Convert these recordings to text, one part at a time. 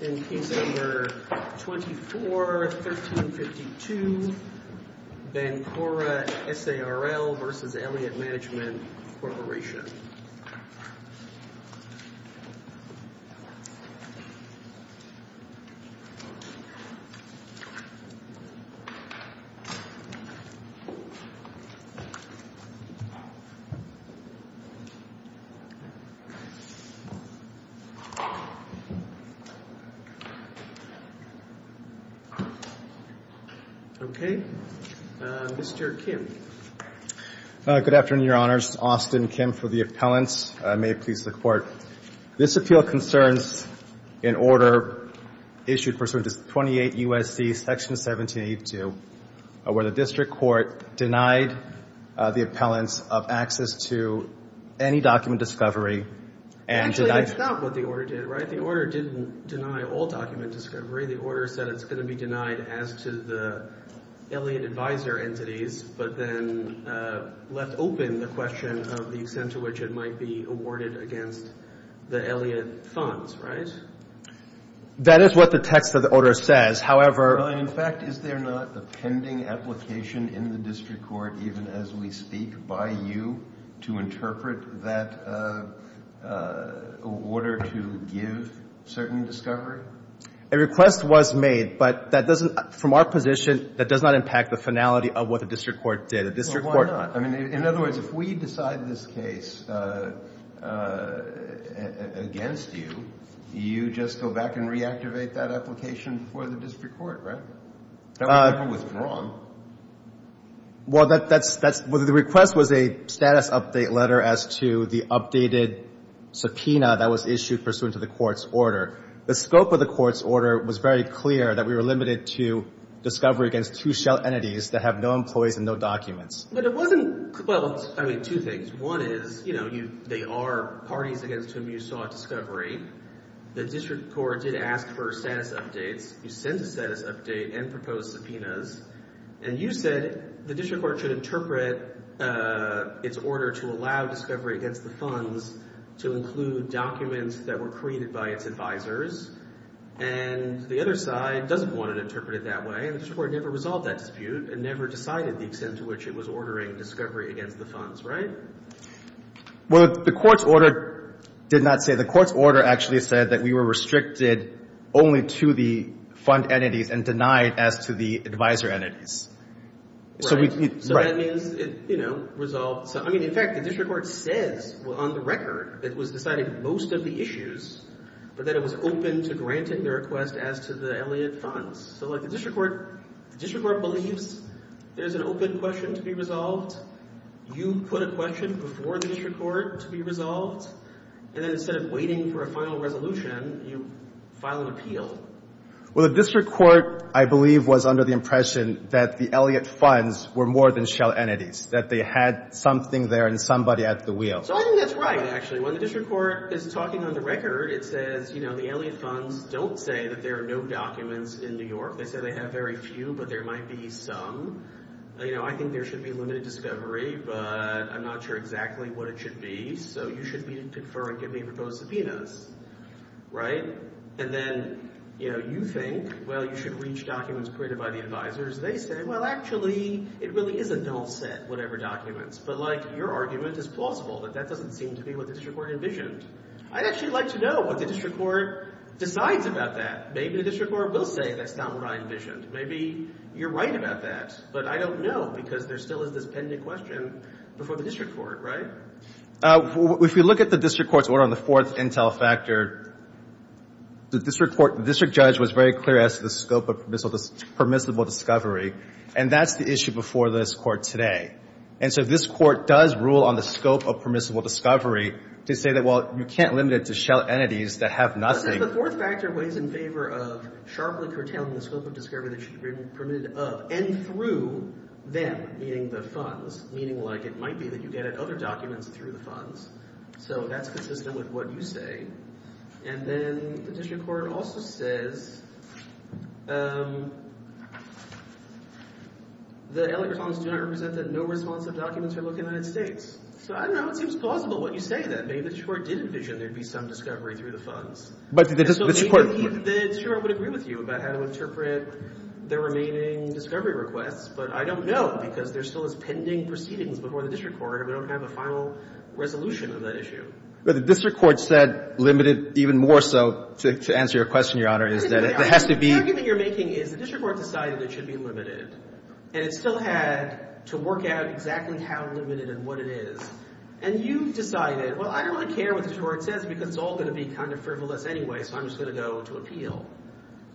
24-1352, Vancouver S.a.r.l. v. Elliott Management Corporation. This appeal concerns an order issued pursuant to 28 U.S.C. § 1782 where the district court denied the appellants of access to any document discovery and denied... Actually, that's not what the order did, right? The order didn't deny all document discovery. The order said it's going to be denied as to the Elliott advisor entities, but then left open the question of the extent to which it might be awarded against the Elliott funds, right? That is what the text of the order says. However... Well, in fact, is there not a pending application in the district court, even as we speak, by you to interpret that order to give certain discovery? A request was made, but from our position, that does not impact the finality of what the district court did. Well, why not? In other words, if we decide this case against you, you just go back and reactivate that application for the district court, right? That's not what's wrong. Well, the request was a status update letter as to the updated subpoena that was issued pursuant to the court's order. The scope of the court's order was very clear that we were limited to discovery against two shell entities that have no employees and no documents. But it wasn't... Well, I mean, two things. One is, you know, they are parties against whom you sought discovery. The district court did ask for a status update. You sent a status update and proposed subpoenas. And you said the district court should interpret its order to allow discovery against the funds to include documents that were created by its advisors. And the other side doesn't want to interpret it that way. And the district court never resolved that dispute and never decided the extent to which it was ordering discovery against the funds, right? Well, the court's order did not say... The court's order actually said that we were restricted only to the fund entities and denied as to the advisor entities. Right. So that means it, you know, resolved... I mean, in fact, the district court said on the record that it was deciding most of the issues, but that it was open to granting the request as to the Elliot funds. So, like, the district court believes there's an open question to be resolved. You put a question before the district court to be resolved, and instead of waiting for a final resolution, you file an appeal. Well, the district court, I believe, was under the impression that the Elliot funds were more than shell entities, that they had something there and somebody at the wheel. So I think that's right, actually. When the district court is talking on the record, it says, you know, the Elliot funds don't say that there are no documents in New York. They say they have very few, but there might be some. You know, I think there should be limited discovery, but I'm not sure exactly what it should be. So you should be deferring any proposed subpoenas. Right. And then, you know, you think, well, you should reach documents created by the advisors. They say, well, actually, it really is a null set, whatever documents. But, like, your argument is plausible, but that doesn't seem to be what the district court envisioned. I'd actually like to know what the district court decides about that. Maybe the district court will say that's not what I envisioned. Maybe you're right about that, but I don't know, because there still is this pending question before the district court, right? If you look at the district court's order on the fourth intel factor, the district court – the district judge was very clear as to the scope of permissible discovery, and that's the issue before this court today. And so this court does rule on the scope of permissible discovery to say that, well, you can't limit it to shell entities that have nothing. The fourth factor weighs in favor of sharply curtailing the scope of discovery that should be permitted, and through them, meaning the funds. Meaning, like, it might be that you get at other documents through the funds. So that's consistent with what you say. And then the district court also says that L.A. response did not represent that no responsive documents are located in the United States. So I don't know if it's plausible what you say in that case. The district court did envision there'd be some discovery through the funds. So maybe the district court would agree with you about how to interpret the remaining discovery requests, but I don't know because there's still this pending proceedings before the district court, and we don't have a final resolution on that issue. But the district court said limited even more so, to answer your question, Your Honor, is that it has to be – Everything you're making is the district court decided it should be limited, and it still has to work out exactly how limited and what it is. And you've decided, well, I don't want to tear what the district court says because it's all going to be kind of frivolous anyway, so I'm just going to go to appeal.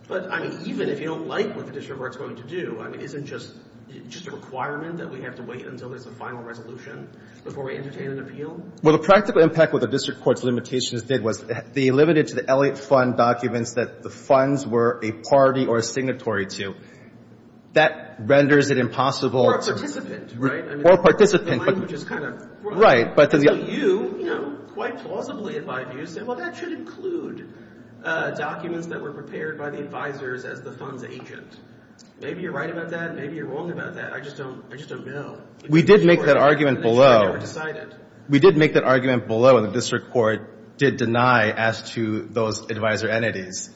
But, I mean, even if you don't like what the district court is going to do, I mean, isn't it just a requirement that we have to wait until there's a final resolution before we entertain an appeal? Well, the practical impact of what the district court's limitations did was they limited to the L.A. fund documents that the funds were a party or a signatory to. That renders it impossible – Or a participant, right? Or a participant. Right. So you, you know, quite plausibly advised us that, well, that should include documents that were prepared by the advisors as the fund's agents. Maybe you're right about that, maybe you're wrong about that. I just don't know. We did make that argument below. We did make that argument below that the district court did deny as to those advisor entities.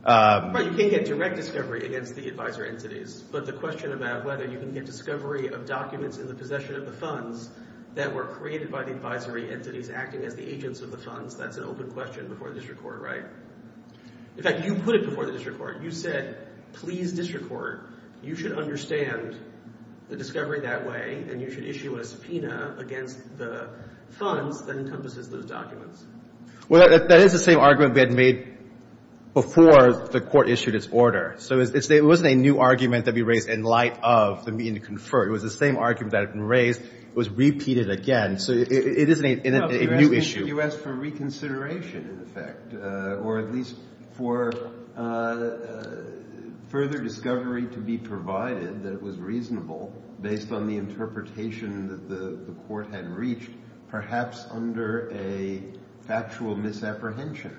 You can get direct discovery against the advisor entities, but the question about whether you get discovery of documents in the possession of the funds that were created by the advisory entities acting as the agents of the funds, that's an open question before the district court, right? In fact, you put it before the district court. You said, please, district court, you should understand the discovery that way, and you should issue a subpoena against the fund that encompasses those documents. Well, that is the same argument we had made before the court issued its order. So it wasn't a new argument that we raised in light of the need to confer. It was the same argument that had been raised. It was repeated again. So it isn't a new issue. You asked for reconsideration, in effect, or at least for further discovery to be provided that was reasonable based on the interpretation that the court had reached, perhaps under a factual misapprehension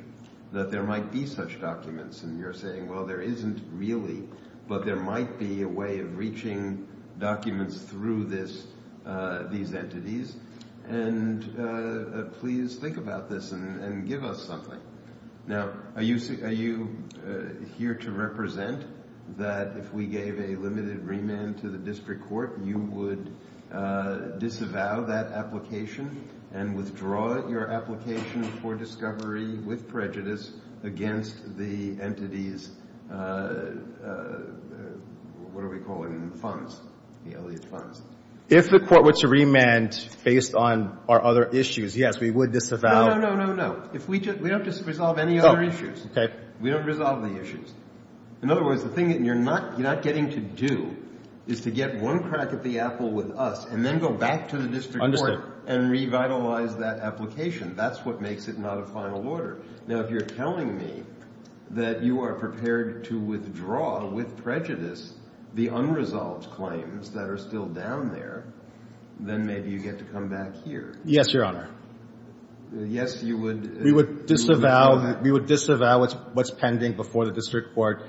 that there might be such documents. And you're saying, well, there isn't really, but there might be a way of reaching documents through these entities, and please think about this and give us something. Now, are you here to represent that if we gave a limited remand to the district court, you would disavow that application and withdraw your application for discovery with prejudice against the entity's funds? If the court were to remand based on our other issues, yes, we would disavow. No, no, no, no, no. We don't just resolve any other issues. We don't resolve the issues. In other words, the thing that you're not getting to do is to get one crack at the apple with us and then go back to the district court and revitalize that application. That's what makes it not a final order. Now, if you're telling me that you are prepared to withdraw with prejudice the unresolved claims that are still down there, then maybe you get to come back here. Yes, Your Honor. Yes, you would? We would disavow what's pending before the district court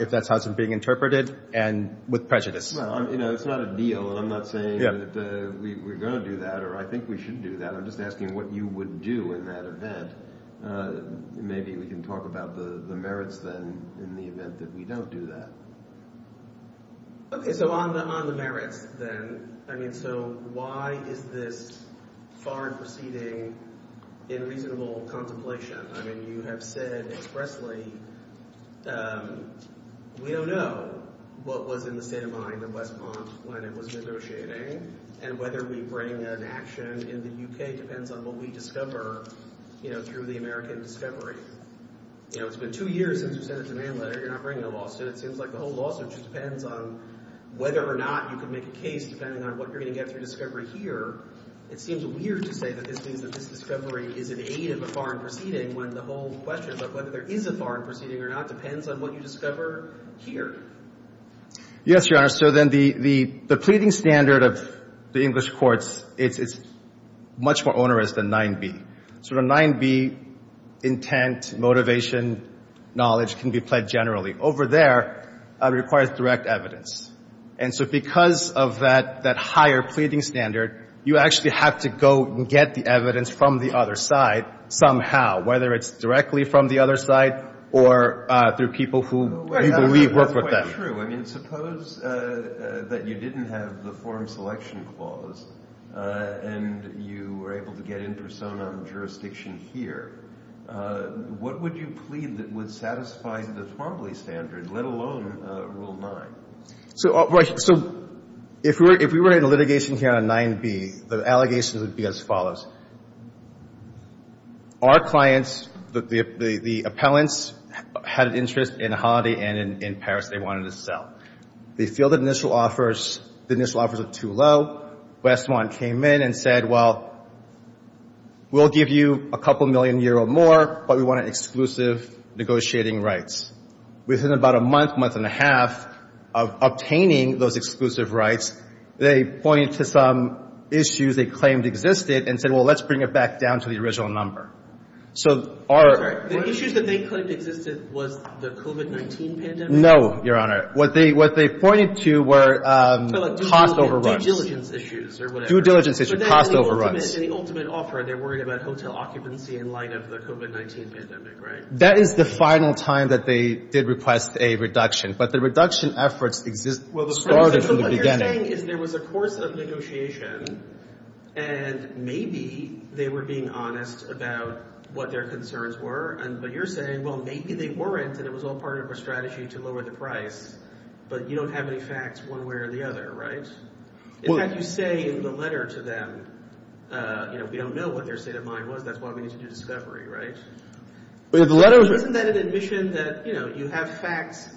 if that hasn't been interpreted and with prejudice. Well, you know, it's not a deal. I'm not saying that we're going to do that or I think we should do that. I'm just asking what you would do in that event. Maybe we can talk about the merits then in the event that we don't do that. Okay, so on the merits then, I mean, so why is this far exceeding in reasonable contemplation? I mean, you have said expressly we don't know what was in the standpoint of West Bronx when and whether we bring an action in the U.K. depends on what we discover, you know, through the American discovery. You know, it's been two years since you sent us your mail letter. You're not bringing a lawsuit. It seems like the whole lawsuit just depends on whether or not you can make a case depending on what you're going to get through discovery here. It seems weird to say that this discovery is an aid in the foreign proceeding when the whole question of whether there is a foreign proceeding or not depends on what you discover here. Yes, Your Honor. So then the pleading standard of the English courts, it's much more onerous than 9B. So the 9B intent, motivation, knowledge can be played generally. Over there, it requires direct evidence. And so because of that higher pleading standard, you actually have to go and get the evidence from the other side somehow, whether it's directly from the other side or through people who you believe work with them. Well, that's true. I mean, suppose that you didn't have the Foreign Selection Clause and you were able to get interstone on the jurisdiction here. What would you plead that would satisfy the frontally standard, let alone Rule 9? So if we were in litigation here on 9B, the allegations would be as follows. Our clients, the appellants, had an interest in Hadi and in Paris they wanted to sell. They feel the initial offers are too low. Westmont came in and said, well, we'll give you a couple million euro more, but we want exclusive negotiating rights. Within about a month, month and a half of obtaining those exclusive rights, they point to some issues they claimed existed and said, well, let's bring it back down to the original number. The issues that they claimed existed was the COVID-19 pandemic? No, Your Honor. What they pointed to were cost overruns. Due diligence issues or whatever. Due diligence issues, cost overruns. But that's the ultimate offer. They're worried about hotel occupancy in light of the COVID-19 pandemic, right? That is the final time that they did request a reduction. But the reduction efforts started from the beginning. What you're saying is there was a course of negotiation and maybe they were being honest about what their concerns were. But you're saying, well, maybe they weren't and it was all part of a strategy to lower the price. But you don't have any facts one way or the other, right? In fact, you say in the letter to them, you know, we don't know what their state of mind was. That's why we need to do discovery, right? Isn't that an admission that, you know, you have facts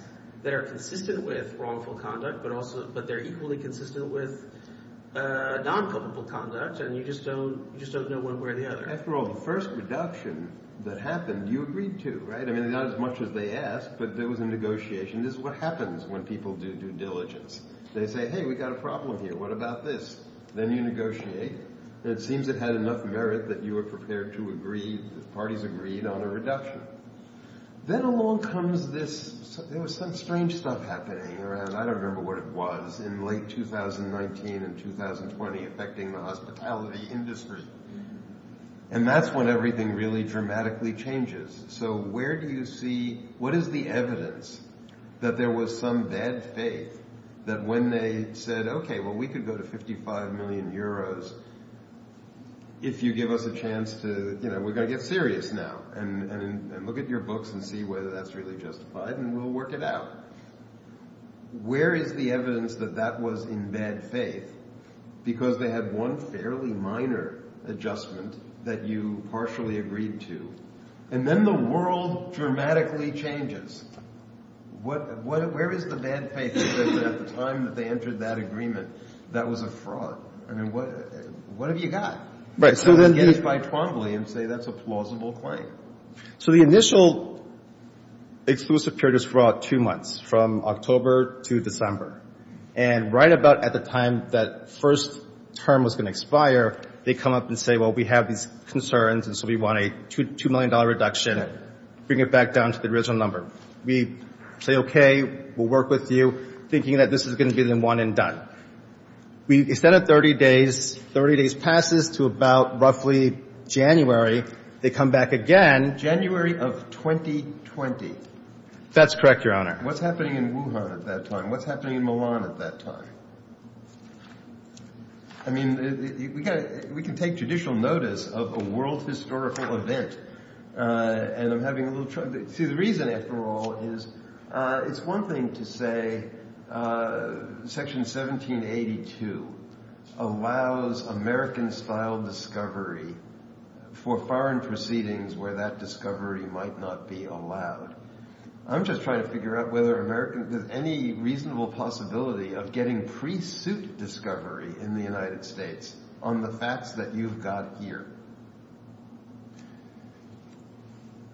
that are consistent with wrongful conduct, but they're equally consistent with non-criminal conduct, and you just don't know one way or the other. After all, the first reduction that happened, you agreed to, right? I mean, not as much as they asked, but there was a negotiation. This is what happens when people do due diligence. They say, hey, we've got a problem here. What about this? Then you negotiate. It seems it had enough merit that you were prepared to agree, the parties agreed on a reduction. Then along comes this, there was some strange stuff happening around, I don't remember what it was, in late 2019 and 2020 affecting the hospitality industry. And that's when everything really dramatically changes. So where do you see, what is the evidence that there was some bad faith that when they said, okay, well, we could go to 55 million euros if you give us a chance to, you know, look at your books and see whether that's really justified, and we'll work it out. Where is the evidence that that was in bad faith, because they had one fairly minor adjustment that you partially agreed to? And then the world dramatically changes. Where is the bad faith that at the time that they entered that agreement, that was a fraud? I mean, what have you got? So the initial exclusive period is for about two months, from October to December. And right about at the time that first term was going to expire, they come up and say, well, we have these concerns, and so we want a $2 million reduction, bring it back down to the original number. We say, okay, we'll work with you, thinking that this is going to be the one and done. Instead of 30 days, 30 days passes to about roughly January. They come back again. January of 2020. That's correct, Your Honor. What's happening in Wuhan at that time? What's happening in Milan at that time? I mean, we can take judicial notice of a world historical event, and I'm having a little allows American-style discovery for foreign proceedings where that discovery might not be allowed. I'm just trying to figure out whether there's any reasonable possibility of getting pre-suit discovery in the United States on the facts that you've got here.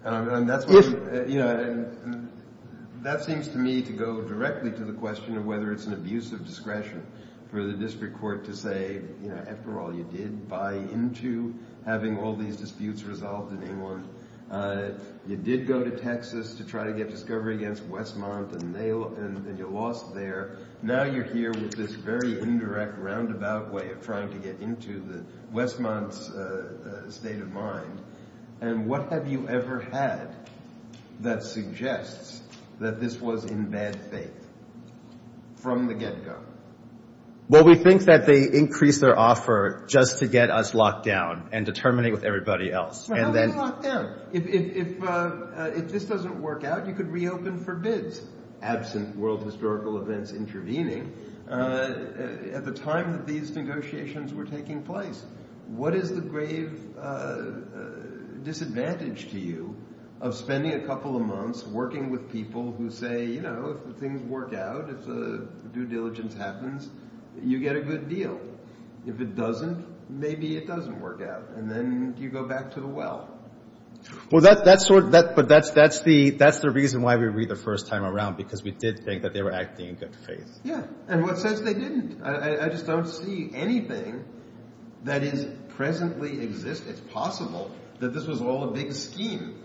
And that seems to me to go directly to the question of whether it's an abuse of discretion for the district court to say, you know, after all, you did buy into having all these disputes resolved in New Orleans. You did go to Texas to try to get discovery against Westmont, and you lost there. Now you're here with this very indirect roundabout way of trying to get into the Westmont state of mind. And what have you ever had that suggests that this was in bad faith from the get-go? Well, we think that they increased their offer just to get us locked down and to terminate with everybody else. How did you lock down? If this doesn't work out, you could reopen for good. Absent world historical events intervening, at the time that these negotiations were taking place, what is the grave disadvantage to you of spending a couple of months working with people who say, you know, if things work out, if the due diligence happens, you get a good deal? If it doesn't, maybe it doesn't work out, and then you go back to the well. Well, that's the reason why we read the first time around, because we did think that they were acting in good faith. Yeah. And what says they didn't? I just don't see anything that is presently existent, possible, that this was all a big scheme.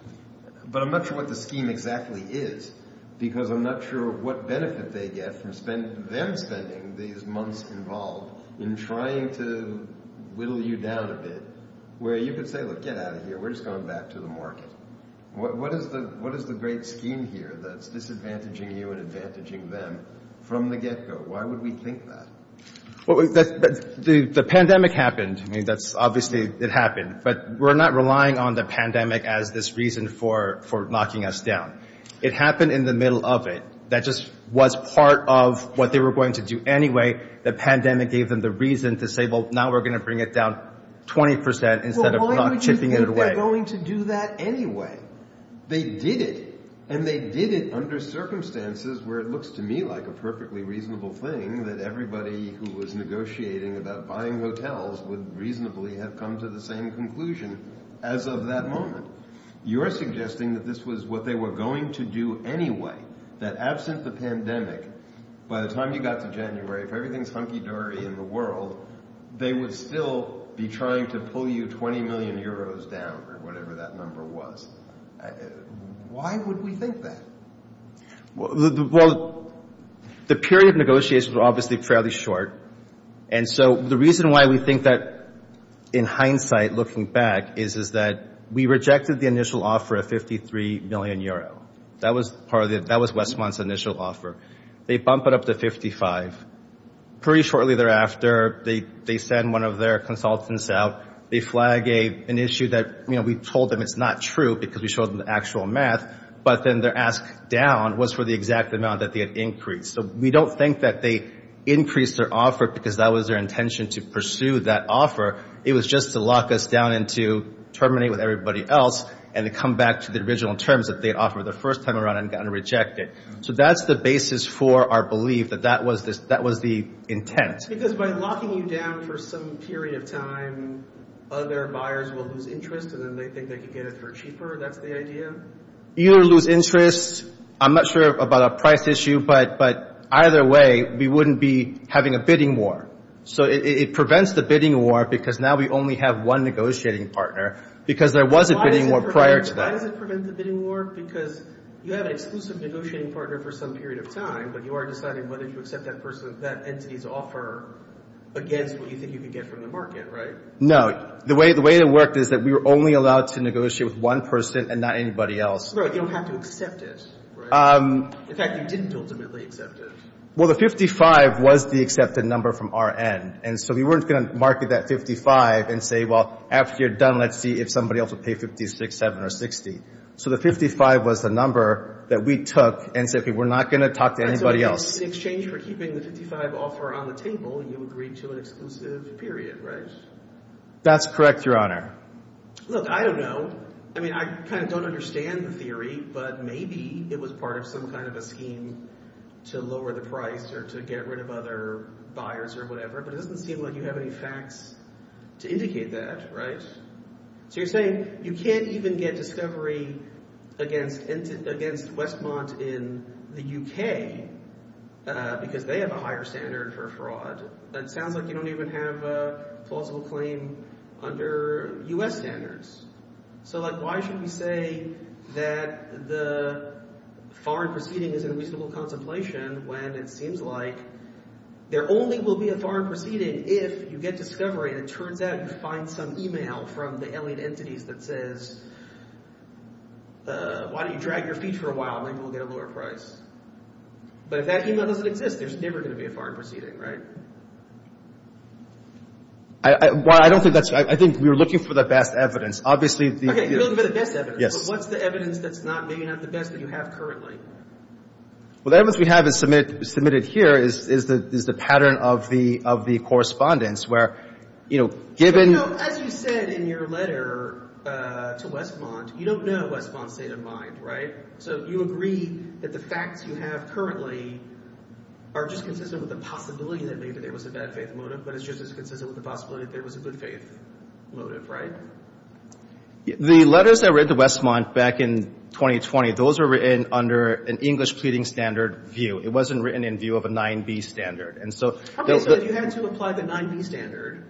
But I'm not sure what the scheme exactly is, because I'm not sure what benefit they get from them spending these months involved in trying to whittle you down a bit, where you could say, look, get out of here, we're just going back to the market. What is the great scheme here that's disadvantaging you and advantaging them from the get-go? Why would we think that? Well, the pandemic happened. I mean, obviously, it happened. But we're not relying on the pandemic as this reason for knocking us down. It happened in the middle of it. That just was part of what they were going to do anyway. The pandemic gave them the reason to say, well, now we're going to bring it down 20 percent instead of not chipping it away. Well, why would you think they're going to do that anyway? They did it, and they did it under circumstances where it looks to me like a perfectly reasonable thing that everybody who was negotiating about buying hotels would reasonably have come to the same conclusion as of that moment. You're suggesting that this was what they were going to do anyway, that absent the pandemic, by the time you got to January, if everything's hunky-dory in the world, they would still be trying to pull you 20 million euros down or whatever that number was. Why would we think that? Well, the period of negotiations were obviously fairly short, and so the reason why we think that, in hindsight, looking back, is that we rejected the initial offer of 53 million euros. That was Westmont's initial offer. They bump it up to 55. Pretty shortly thereafter, they send one of their consultants out. They flag an issue that we told them is not true because we showed them the actual math, but then their ask down was for the exact amount that they had increased. We don't think that they increased their offer because that was their intention to pursue that offer. It was just to lock us down and to terminate with everybody else and to come back to the original terms that they offered the first time around and got rejected. That's the basis for our belief that that was the intent. Because by locking you down for some period of time, other buyers will lose interest, and then they think they can get it for cheaper. That's the idea? You lose interest. I'm not sure about a price issue, but either way, we wouldn't be having a bidding war. It prevents the bidding war because now we only have one negotiating partner because there was a bidding war prior to that. Why did it prevent the bidding war? Because you had an exclusive negotiating partner for some period of time, but you are deciding whether to accept that person's, that entity's offer against what you think you can get from the market, right? No. The way it worked is that we were only allowed to negotiate with one person and not anybody else. Right. You don't have to accept this, right? In fact, we didn't ultimately accept this. Well, the 55 was the accepted number from our end, and so we weren't going to market that 55 and say, well, after you're done, let's see if somebody else will pay 56, 7, or 60. The 55 was the number that we took and said, we're not going to talk to anybody else. In exchange for keeping the 55 offer on the table, you agreed to an exclusive period, right? That's correct, Your Honor. Look, I don't know. I mean, I kind of don't understand the theory, but maybe it was part of some kind of a scheme to lower the price or to get rid of other buyers or whatever, but it doesn't seem like you have any facts to indicate that, right? So you're saying you can't even get discovery against Westmont in the UK because they have a higher standard for fraud. That sounds like you don't even have a plausible claim under U.S. standards. So, like, why should we say that the foreign proceeding is in reasonable contemplation when it seems like there only will be a foreign proceeding if you get discovery and it turns out you find some email from the alien entities that says, why don't you drag your feet for a while? Maybe we'll get a lower price. But if that email doesn't exist, there's never going to be a foreign proceeding, right? Well, I don't think that's... I think we're looking for the best evidence. Obviously... Okay, a little bit of best evidence. So what's the evidence that's maybe not the best that you have currently? Well, the evidence we have submitted here is the pattern of the correspondence where, you know, given... As you said in your letter to Westmont, you don't know Westmont's state of mind, right? So do you agree that the facts you have currently are just consistent with the possibility that maybe there was a bad faith motive, but it's just as consistent with the possibility that there was a good faith motive, right? The letters I read to Westmont back in 2020, those were written under an English pleading standard view. It wasn't written in view of a 9b standard. And so... Okay, so if you had to apply the 9b standard,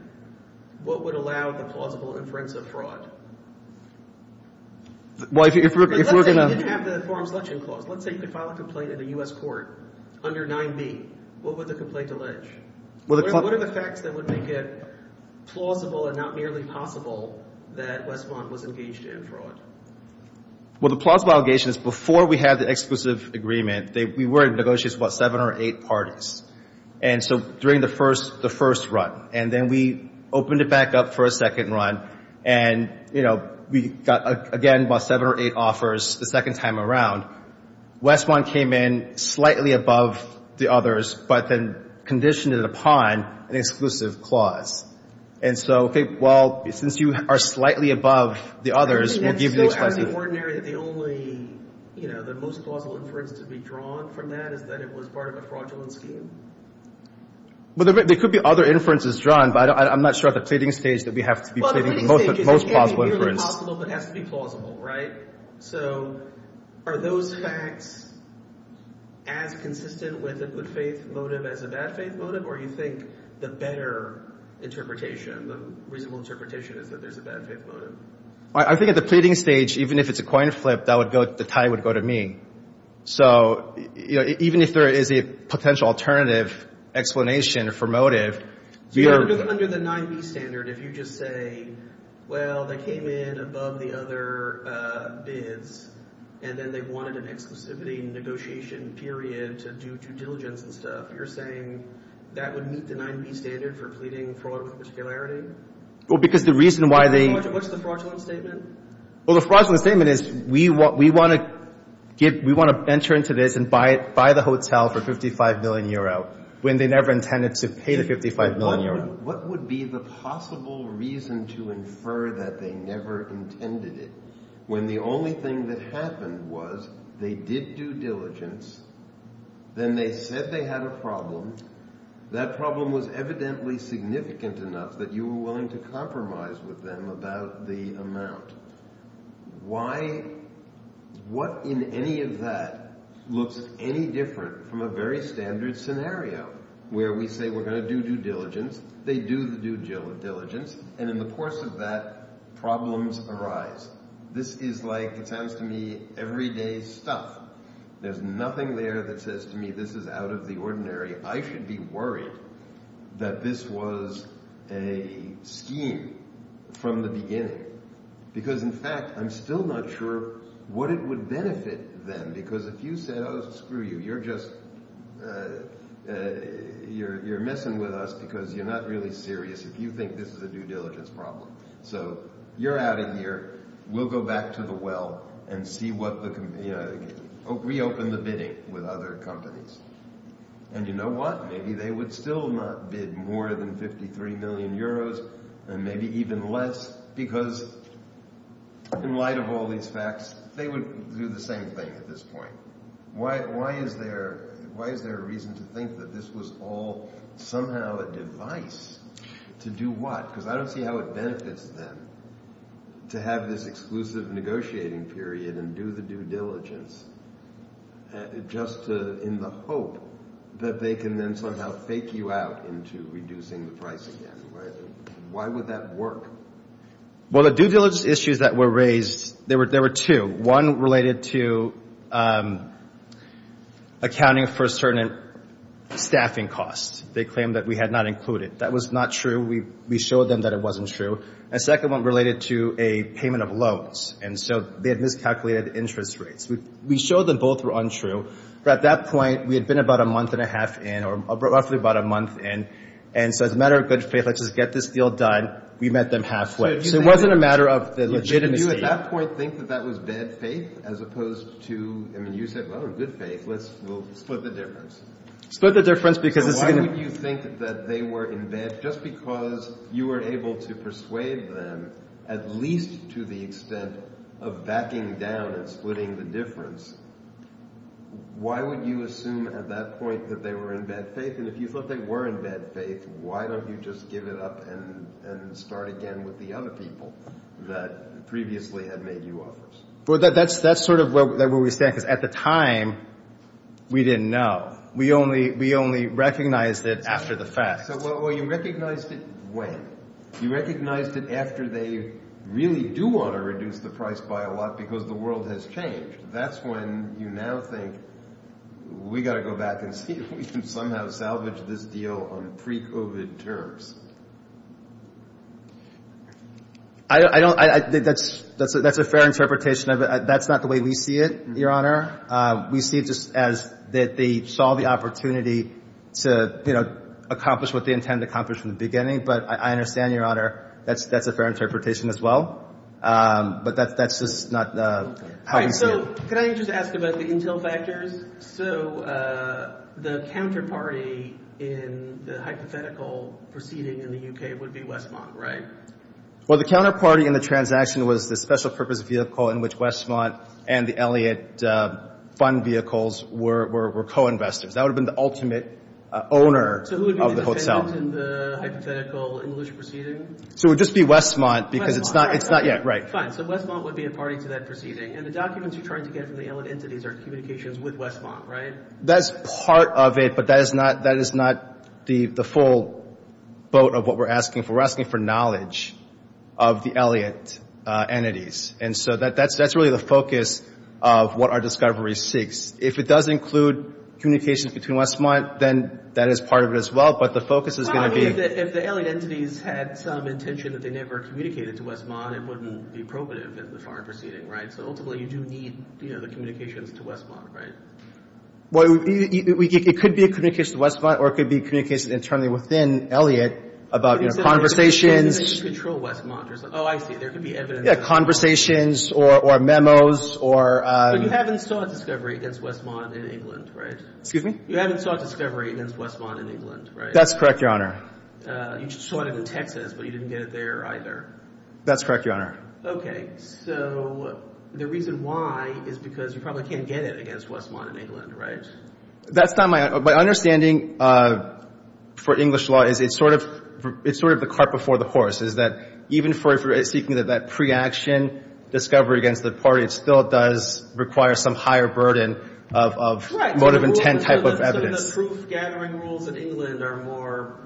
what would allow for plausible inference of Well, if we're going to... Let's say you didn't have the informed selection clause. Let's say you could file a complaint at a U.S. court under 9b. What would the complaint allege? What are the facts that would make it plausible and not merely possible that Westmont was engaged in fraud? Well, the plausible allegation is before we had the exclusive agreement, we were in negotiations with seven or eight parties. And so during the first run, and then we opened it back up for a second run. And, you know, we got, again, about seven or eight offers the second time around. Westmont came in slightly above the others, but then conditioned it upon an exclusive clause. And so, okay, well, since you are slightly above the others, we'll give you the exclusive So out of the ordinary, the only, you know, the most plausible inference to be drawn from that is that it was part of a fraudulent scheme? Well, there could be other inferences drawn, but I'm not sure at the trading stage that we have to be taking the most plausible inference. Well, at the trading stage, it's possible, but it has to be plausible, right? So are those facts as consistent with a good faith motive as a bad faith motive? Or do you think the better interpretation, the reasonable interpretation is that there's a bad faith motive? I think at the trading stage, even if it's a coin flip, that would go, the tie would go to me. So, you know, even if there is a potential alternative explanation for motive, we are So under the 9B standard, if you just say, well, they came in above the other bids, and then they've wanted an exclusivity negotiation period to do due diligence and stuff, you're saying that would meet the 9B standard for pleading fraud with particularity? Well, because the reason why they What's the fraudulent statement? Well, the fraudulent statement is we want to venture into this and buy the hotel for 55 million euro, when they never intended to pay the 55 million euro. What would be the possible reason to infer that they never intended it, when the only thing that happened was they did due diligence, then they said they had a problem, that problem was evidently significant enough that you were willing to compromise with them about the amount. Why, what in any of that looks any different from a very standard scenario, where we say we're going to do due diligence, they do the due diligence, and in the course of that, problems arise. This is like, it sounds to me, everyday stuff. There's nothing there that says to me this is out of the ordinary, I should be worried that this was a scheme from the beginning. Because in fact, I'm still not sure what it would benefit them, because if you said, oh screw you, you're just, you're messing with us because you're not really serious if you think this is a due diligence problem. So, you're out of here, we'll go back to the well and see what the, reopen the bidding with other companies. And you know what, maybe they would still not bid more than 53 million euros, and maybe even less, because in light of all these facts, they would do the same thing at this point. Why is there a reason to think that this was all somehow a device to do what? Because I don't see how it benefits them to have this exclusive negotiating period and do the due diligence, just in the hope that they can then somehow fake you out into reducing the price again. Why would that work? Well, the due diligence issues that were raised, there were two. One related to accounting for certain staffing costs. They claimed that we had not included. That was not true. We showed them that it wasn't true. And second one related to a payment of loans. And so, they had miscalculated interest rates. We showed them both were untrue, but at that point, we had been about a month and a half in, or roughly about a month in. And so, as a matter of good faith, let's just get this deal done. We met them halfway. So, it wasn't a matter of the legitimacy. Did you at that point think that that was bad faith, as opposed to, I mean, you said, oh, good faith, let's split the difference. Split the difference because it's going to... Why would you think that they were in bed? And just because you were able to persuade them, at least to the extent of backing down and splitting the difference, why would you assume at that point that they were in bad faith? And if you thought they were in bad faith, why don't you just give it up and start again with the other people that previously had made you offers? Well, that's sort of where we stand, because at the time, we didn't know. We only recognized it after the fact. Well, you recognized it when? You recognized it after they really do want to reduce the price by a lot because the world has changed. That's when you now think, we've got to go back and see if we can somehow salvage this deal on pre-COVID terms. I think that's a fair interpretation of it. That's not the way we see it, Your Honor. We see it as that they saw the opportunity to accomplish what they intended to accomplish from the beginning. But I understand, Your Honor, that's a fair interpretation as well. But that's just not how you see it. Can I just ask about the intel factors? So the counterparty in the hypothetical proceeding in the UK would be Westmont, right? Well, the counterparty in the transaction was the special purpose vehicle in which Westmont and the Elliott fund vehicles were co-investors. That would have been the ultimate owner of the hotel. So who would be the defendants in the hypothetical English proceeding? So it would just be Westmont because it's not yet. Fine. So Westmont would be a party to that proceeding. And the documents you're trying to get from the Elliott entities are communications with Westmont, right? That's part of it, but that is not the full boat of what we're asking for. We're asking for knowledge of the Elliott entities. And so that's really the focus of what our discovery seeks. If it does include communications between Westmont, then that is part of it as well. But the focus is going to be... I mean, if the Elliott entities had some intention that they never communicated to Westmont, it wouldn't be appropriate of them to start a proceeding, right? So hopefully you do need the communications to Westmont, right? Well, it could be a communication to Westmont or it could be a communication internally within Elliott about conversations... It could be a communication to control Westmont. Oh, I see. Yeah, conversations or memos or... But you haven't sought discovery against Westmont in England, right? Excuse me? You haven't sought discovery against Westmont in England, right? That's correct, Your Honor. You sought it in Texas, but you didn't get it there either. That's correct, Your Honor. Okay. So the reason why is because you probably can't get it against Westmont in England, right? That's not my... My understanding for English law is it's sort of the cart before the horse. It's that even if you're seeking that pre-action discovery against the party, it still does require some higher burden of motive and intent type of evidence. The proof-gathering rules in England are more...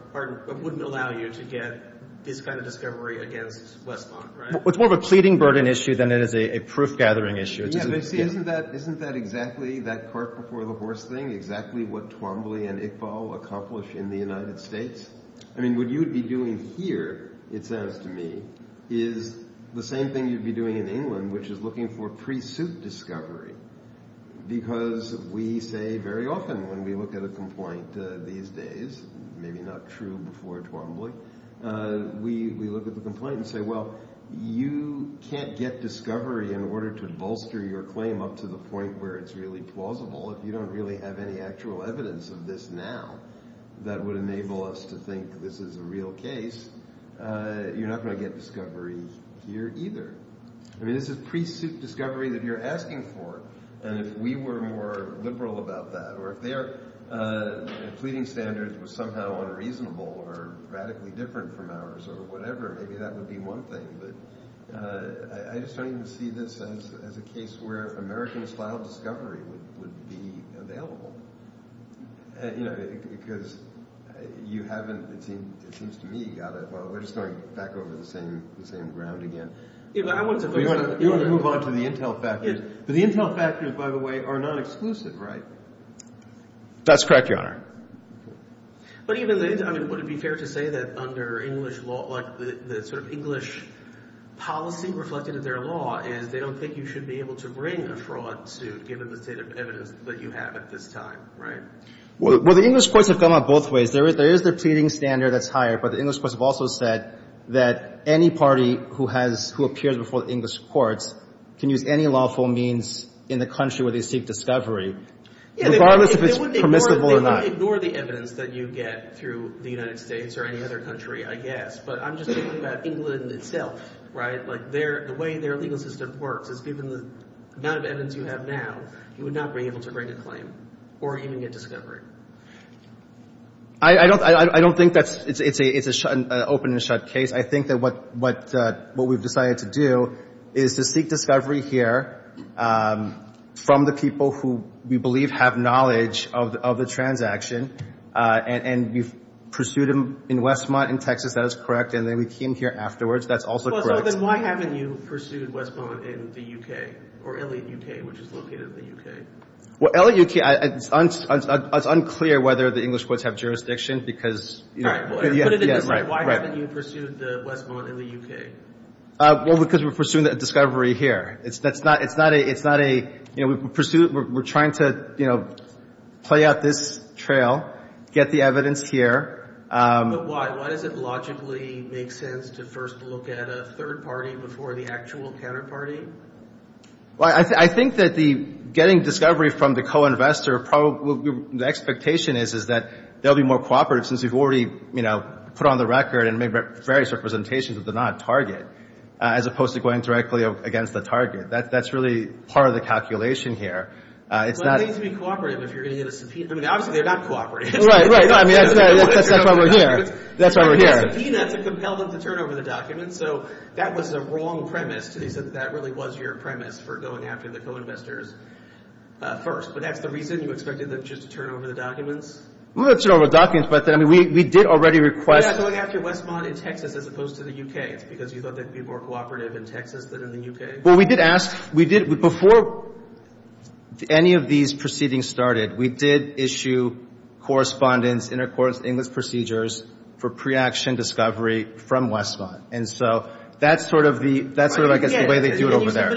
wouldn't allow you to get this kind of discovery against Westmont, right? It's more of a pleading burden issue than it is a proof-gathering issue. Yeah, but isn't that exactly that cart before the horse thing, exactly what Tormbley and Iqbal accomplished in the United States? I mean, what you would be doing here, it sounds to me, is the same thing you'd be doing in England, which is looking for pre-suit discovery. Because we say very often when we look at a complaint these days, maybe not true before Tormbley, we look at the complaint and say, well, you can't get discovery in order to bolster your claim up to the point where it's really plausible if you don't really have any actual evidence of this now that would enable us to think this is a real case, you're not going to get discovery here either. I mean, it's a pre-suit discovery that you're asking for. And if we were more liberal about that, or if their pleading standards were somehow unreasonable or radically different from ours or whatever, maybe that would be one thing. But I certainly see this as a case where American-style discovery would be available. You know, because you haven't, it seems to me, got it, but we're starting back over the same ground again. You want to move on to the intel factors. The intel factors, by the way, are non-exclusive, right? That's correct, Your Honor. I mean, would it be fair to say that under English law, like the sort of English policy reflected in their law, and they don't think you should be able to bring a fraud suit given the state of evidence that you have at this time, right? Well, the English courts have come out both ways. There is a pleading standard that's higher, but the English courts have also said that any party who appears before the English courts can use any lawful means in the country where they seek discovery, regardless if it's permissible or not. They would ignore the evidence that you get through the United States or any other country, I guess, but I'm just thinking about England itself, right? The way their legal system works is given the amount of evidence you have now, you would not be able to bring a claim or even get discovery. I don't think that it's an open-and-shut case. I think that what we've decided to do is to seek discovery here from the people who we believe have knowledge of the transaction, and you pursued them in Westmont in Texas, that is correct, and then we came here afterwards, that's also correct. Well, then why haven't you pursued Westmont in the UK, or LAUK, which is located in the UK? Well, LAUK, it's unclear whether the English courts have jurisdiction because... Why haven't you pursued Westmont in the UK? Well, because we're pursuing a discovery here. We're trying to play out this trail, get the evidence here. But why? Why does it logically make sense to first look at a third party before the actual counterparty? Well, I think that getting discovery from the co-investor, the expectation is that they'll be more cooperative since you've already put on the record and made various representations of the non-target, as opposed to going directly against the target. That's really part of the calculation here. Well, they need to be cooperative if you're going to get a subpoena. Right, right. That's why we're here. We'll get to the documents, but we did already request... Well, we did ask, before any of these proceedings started, we did issue correspondence, intercourse, English procedures for pre-action discovery from Westmont. And so that's sort of the way they do it over there.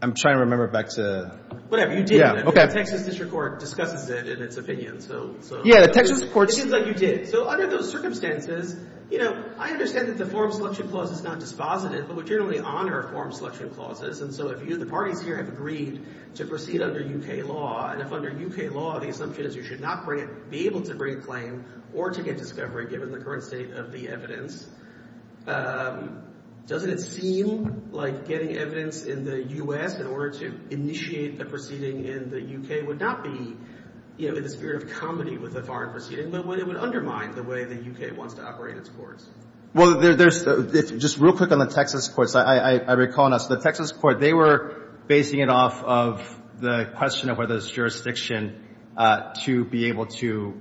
I'm trying to remember back to... Yeah, the Texas District Court... The form selection clause is not dispositive, but we generally honor form selection clauses. And so if you and a party peer have agreed to proceed under U.K. law, and if under U.K. law the subpoena is you should not be able to bring a claim or to get discovery given the current state of the evidence, doesn't it seem like getting evidence in the U.S. in order to initiate a proceeding in the U.K. would not be given in the spirit of comedy with a foreign proceeding, but would undermine the way the U.K. wants to operate its courts? Well, just real quick on the Texas courts. I recall now, the Texas courts, they were basing it off of the question of whether it's jurisdiction to be able to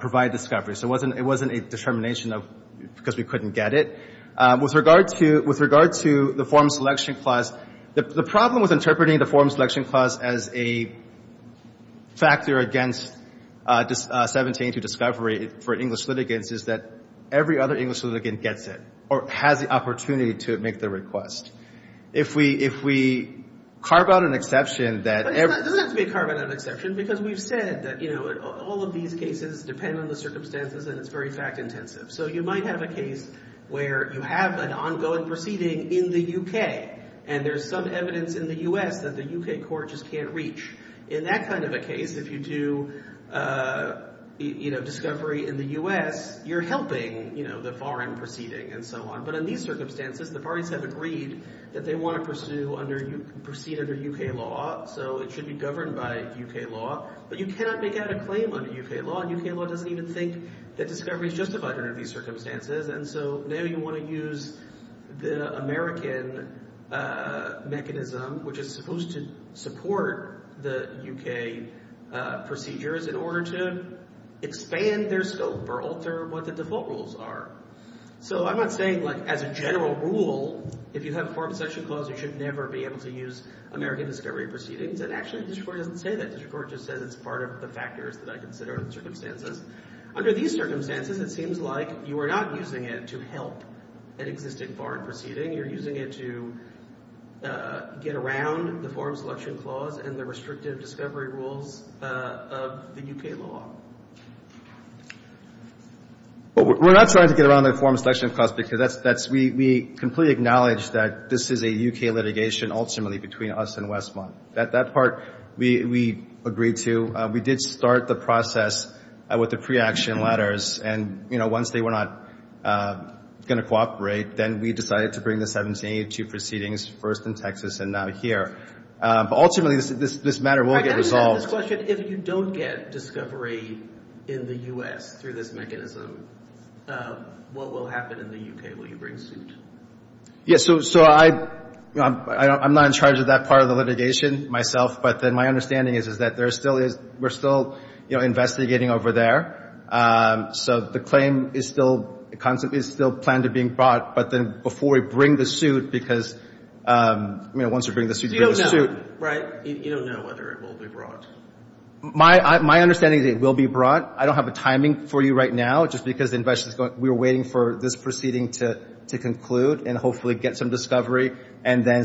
provide discovery. So it wasn't a determination because we couldn't get it. With regard to the form selection clause, the problem with interpreting the form selection clause as a factor against 17 to discovery for English litigants is that every other English litigant gets it or has the opportunity to make the request. If we carve out an exception that every... It doesn't have to be a carve-out exception, because we've said that all of these cases depend on the circumstances and it's very fact-intensive. So you might have a case where you have an ongoing proceeding in the U.K. and there's some evidence in the U.S. that the U.K. court just can't reach. In that kind of a case, if you do discovery in the U.S., you're helping the foreign proceeding and so on. But in these circumstances, the parties have agreed that they want to proceed under U.K. law, so it should be governed by U.K. law. But you can't make out a claim under U.K. law, and U.K. law doesn't even think that discovery is justified under these circumstances. And so now you want to use the American mechanism, which is supposed to support the U.K. procedures in order to expand their scope or alter what the default rules are. So I'm not saying, like, as a general rule, if you have a Foreign Protection Clause, you should never be able to use American discovery proceedings. But actually, the Supreme Court doesn't say that. The Supreme Court just said it's part of the factors that I consider in circumstances. Under these circumstances, it seems like you are not using it to help an existing foreign proceeding. You're using it to get around the Foreign Protection Clause and the restrictive discovery rules of the U.K. law. We're not trying to get around the Foreign Protection Clause, because we completely acknowledge that this is a U.K. litigation ultimately between us and Westmont. That part, we agreed to. We did start the process with the pre-action letters, and once they were not going to cooperate, then we decided to bring the 1782 proceedings first in Texas and now here. Ultimately, this matter will get resolved. I have a question. If you don't get discovery in the U.S. through this mechanism, what will happen in the U.K.? Will you bring suit? Yes, so I'm not in charge of that part of the litigation myself, but then my understanding is that we're still investigating over there. So the claim is still planned to be brought, but then before we bring the suit, because once you bring the suit, you bring the suit. You don't know, right? You don't know whether it will be brought. My understanding is it will be brought. I don't have the timing for you right now, just because we're waiting for this proceeding to conclude and hopefully get some discovery and then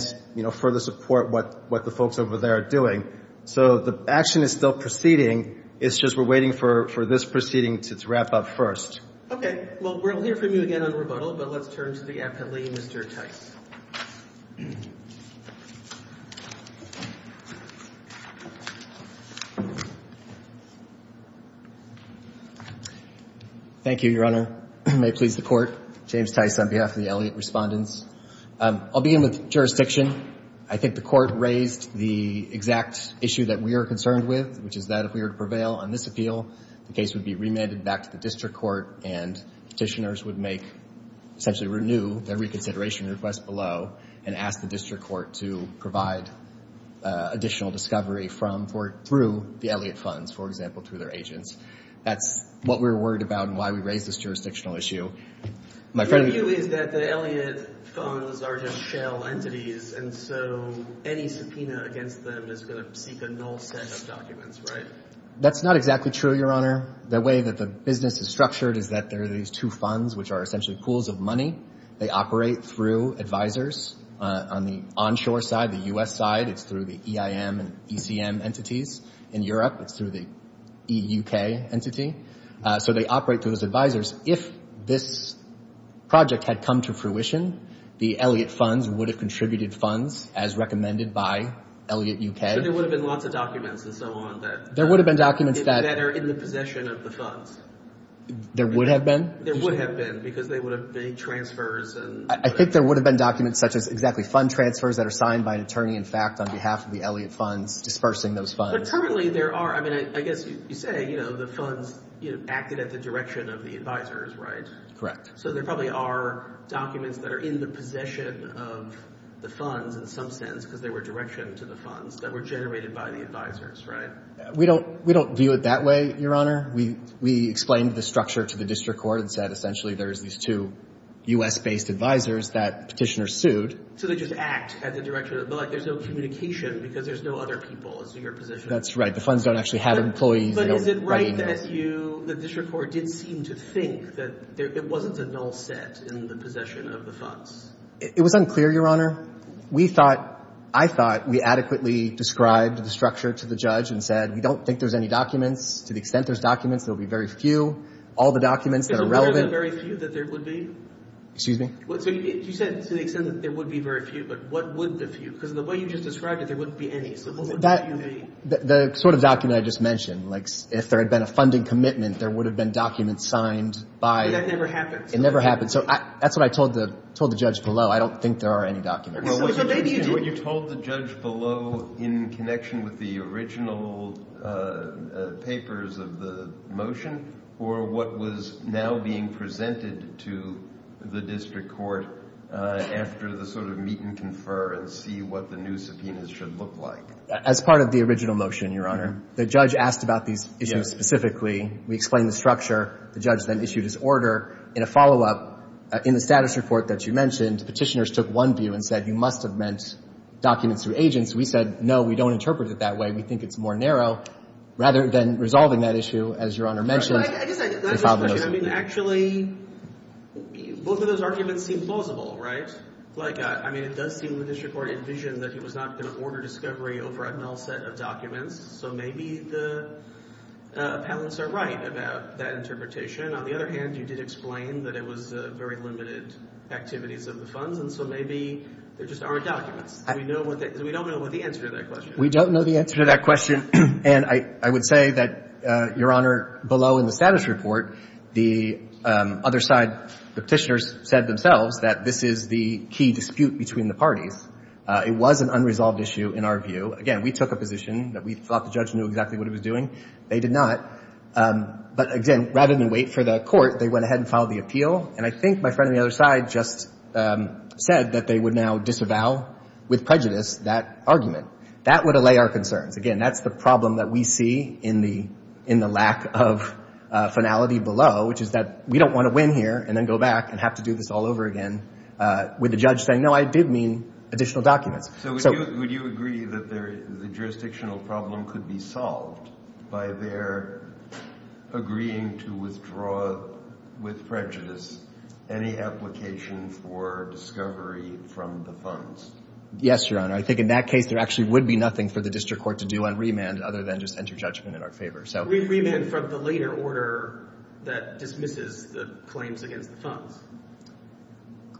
further support what the folks over there are doing. So the action is still proceeding. It's just we're waiting for this proceeding to wrap up first. Okay. Well, we're here for you again on rebuttal, but let's turn to the affidavit. Mr. Tice. Thank you, Your Honor. May it please the Court. James Tice on behalf of the Elliott Respondents. I'll begin with jurisdiction. I think the Court raised the exact issue that we are concerned with, which is that if we were to prevail on this appeal, the case would be remanded back to the district court and petitioners would make, essentially renew, their reconsideration request below and ask the district court to provide additional discovery through the Elliott funds, for example, to their agents. That's what we're worried about and why we raised this jurisdictional issue. My friend would agree. The issue is that the Elliott funds are just shell entities, and so any subpoena against them is going to be a null set of documents, right? That's not exactly true, Your Honor. The way that the business is structured is that there are these two funds, which are essentially pools of money. They operate through advisors on the onshore side, the U.S. side. It's through the EIM and ECM entities. In Europe, it's through the EUK entity. So they operate through those advisors. If this project had come to fruition, the Elliott funds would have contributed funds as recommended by Elliott UK. There would have been lots of documents and so on that are in the possession of the funds. There would have been? There would have been because they would have made transfers. I think there would have been documents such as exactly fund transfers that are signed by an attorney-in-fact on behalf of the Elliott funds, dispersing those funds. But currently there are, I mean, I guess you say, you know, the funds acted as a direction of the advisors, right? Correct. So there probably are documents that are in the possession of the funds in some sense because they were direction to the funds that were generated by the advisors, right? We don't view it that way, Your Honor. We explain the structure to the district court that essentially there's these two U.S.-based advisors that petitioners sued. So they just act as a direction. Like there's no communication because there's no other people to your position. That's right. The funds don't actually have employees writing them. The district court didn't seem to think that it wasn't the null set in the possession of the funds. It was unclear, Your Honor. We thought, I thought we adequately described the structure to the judge and said we don't think there's any documents. To the extent there's documents, there will be very few. All the documents that are relevant. To the extent that there would be very few? Excuse me? You said to the extent that there would be very few, but what would the few? Because the way you just described it, there wouldn't be any. So what would the few be? The sort of document I just mentioned. Like if there had been a funding commitment, there would have been documents signed by But that never happened. It never happened. So that's what I told the judge below. I don't think there are any documents. Were you told the judge below in connection with the original papers of the motion or what was now being presented to the district court after the sort of meet and confer and see what the new subpoenas should look like? As part of the original motion, Your Honor, the judge asked about these issues specifically. We explained the structure. The judge then issued his order. In a follow-up, in the status report that you mentioned, petitioners took one view and said you must have meant documents to agents. We said no, we don't interpret it that way. We think it's more narrow. Rather than resolving that issue, as Your Honor mentioned. Actually, both of those arguments seem plausible, right? It does seem that the district court envisioned that it was not going to order discovery over a null set of documents. So maybe the appellants are right about that interpretation. On the other hand, you did explain that it was very limited activities of the funds. So maybe there just aren't documents. We don't know the answer to that question. We don't know the answer to that question. And I would say that, Your Honor, below in the status report, the other side, the petitioners said themselves that this is the key dispute between the parties. It was an unresolved issue in our view. Again, we took a position that we thought the judge knew exactly what he was doing. They did not. But again, rather than wait for the court, they went ahead and filed the appeal. And I think my friend on the other side just said that they would now disavow with prejudice that argument. That would allay our concerns. Again, that's the problem that we see in the lack of finality below, which is that we don't want to win here and then go back and have to do this all over again, with the judge saying, no, I did mean additional documents. So would you agree that the jurisdictional problem could be solved by their agreeing to withdraw with prejudice any application for discovery from the funds? Yes, Your Honor. I think in that case, there actually would be nothing for the district court to do on remand other than just enter judgment in our favor. Remand from the later order that dismisses the claims against funds.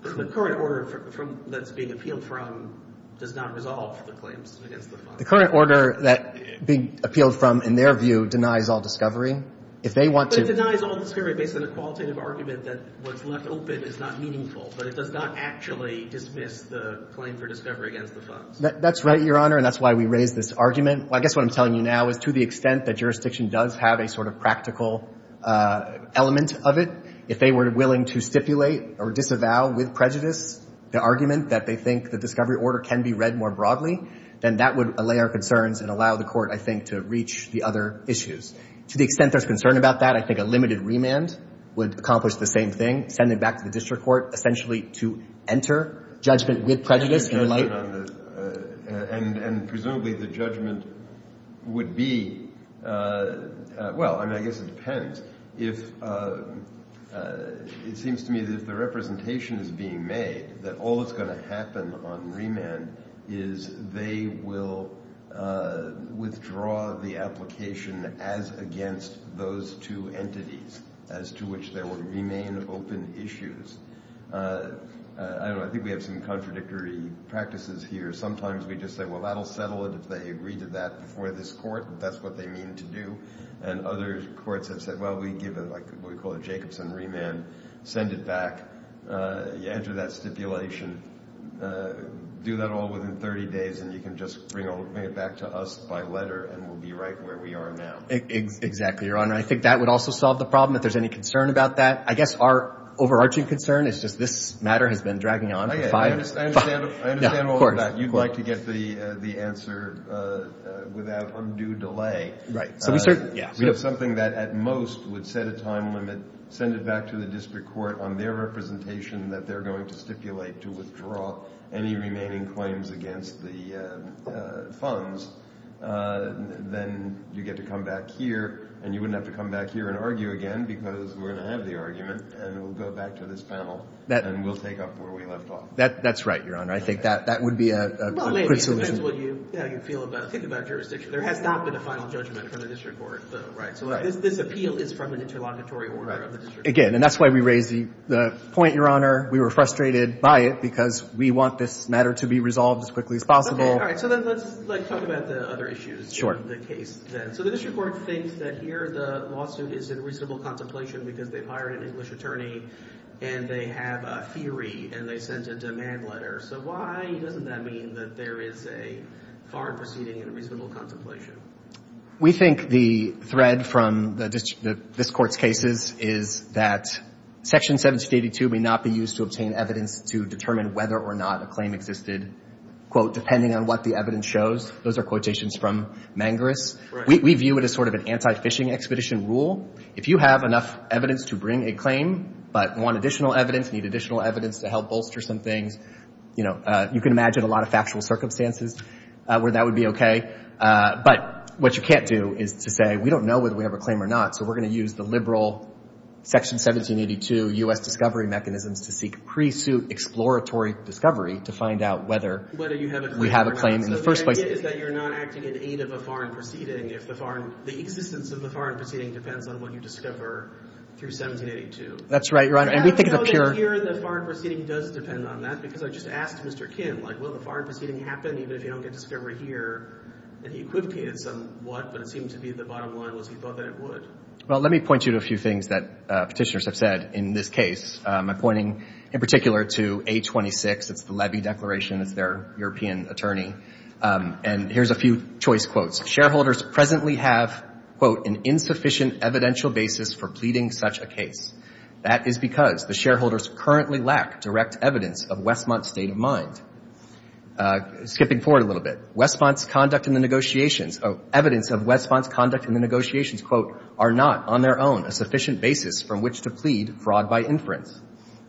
The current order that's being appealed from does not resolve the claims against the funds. The current order that being appealed from, in their view, denies all discovery. If they want to But it denies all discovery based on a qualitative argument that what's left open is not meaningful, but it does not actually dismiss the claim for discovery against the funds. That's right, Your Honor, and that's why we raised this argument. I guess what I'm telling you now is to the extent that jurisdiction does have a sort of practical element of it, if they were willing to stipulate or disavow with prejudice the argument that they think the discovery order can be read more broadly, then that would allay our concerns and allow the court, I think, to reach the other issues. To the extent there's concern about that, I think a limited remand would accomplish the same thing, send it back to the district court, essentially to enter judgment with prejudice. And presumably the judgment would be, well, I guess it depends. It seems to me that if the representation is being made that all that's going to happen on remand is they will withdraw the application as against those two entities as to which they will remain open issues. I don't know. I think we have some contradictory practices here. Sometimes we just say, well, that'll settle it if they agree to that before this court, and that's what they mean to do. And other courts have said, well, we give what we call a Jacobson remand, send it back, enter that stipulation, do that all within 30 days, and you can just bring it back to us by letter and we'll be right where we are now. Exactly, Your Honor. I think that would also solve the problem if there's any concern about that. I guess our overarching concern is that this matter has been dragging on for five months. I understand all of that. You'd like to get the answer without undue delay. Right. We have something that at most would set a time limit, send it back to the district court on their representation that they're going to stipulate to withdraw any remaining claims against the funds. Then you get to come back here, and you wouldn't have to come back here and argue again because we're going to have the argument, and we'll go back to this panel, and we'll take up where we left off. That's right, Your Honor. I think that would be a good solution. Well, maybe eventually you feel about jurisdiction. There has not been a final judgment from the district court. So this appeal is from an interlocutory order of the district court. Again, and that's why we raised the point, Your Honor. We were frustrated by it because we want this matter to be resolved as quickly as possible. Okay. All right. So let's talk about the other issues. Sure. So the district court thinks that here the lawsuit is in reasonable contemplation because they've hired an English attorney, and they have a theory, and they sent a demand letter. So why doesn't that mean that there is a foreign proceeding in reasonable contemplation? We think the thread from this court's cases is that Section 782 may not be used to obtain evidence to determine whether or not a claim existed, quote, depending on what the evidence shows. Those are quotations from Mangarest. We view it as sort of an anti-phishing expedition rule. If you have enough evidence to bring a claim but want additional evidence, need additional evidence to help bolster something, you know, you can imagine a lot of factual circumstances where that would be okay. But what you can't do is to say, we don't know whether we have a claim or not, so we're going to use the liberal Section 1782 U.S. discovery mechanism to seek pre-suit exploratory discovery to find out whether we have a claim in the first place. But the idea is that you're not acting in aid of a foreign proceeding if the existence of the foreign proceeding depends on what you discover through 1782. That's right, Your Honor, and we think it's a pure... I'm sure the foreign proceeding doesn't depend on that because I just asked Mr. Kim, like, will the foreign proceeding happen even if you don't get discovery here? And he could have given what, but it seemed to be the bottom line was he thought that it would. Well, let me point you to a few things that petitioners have said in this case. I'm pointing in particular to 826, it's the levy declaration of their European attorney, and here's a few choice quotes. Shareholders presently have, quote, an insufficient evidential basis for pleading such a case. That is because the shareholders currently lack direct evidence of Westmont's state of mind. Skipping forward a little bit, evidence of Westmont's conduct in the negotiations, quote, are not on their own a sufficient basis from which to plead fraud by inference.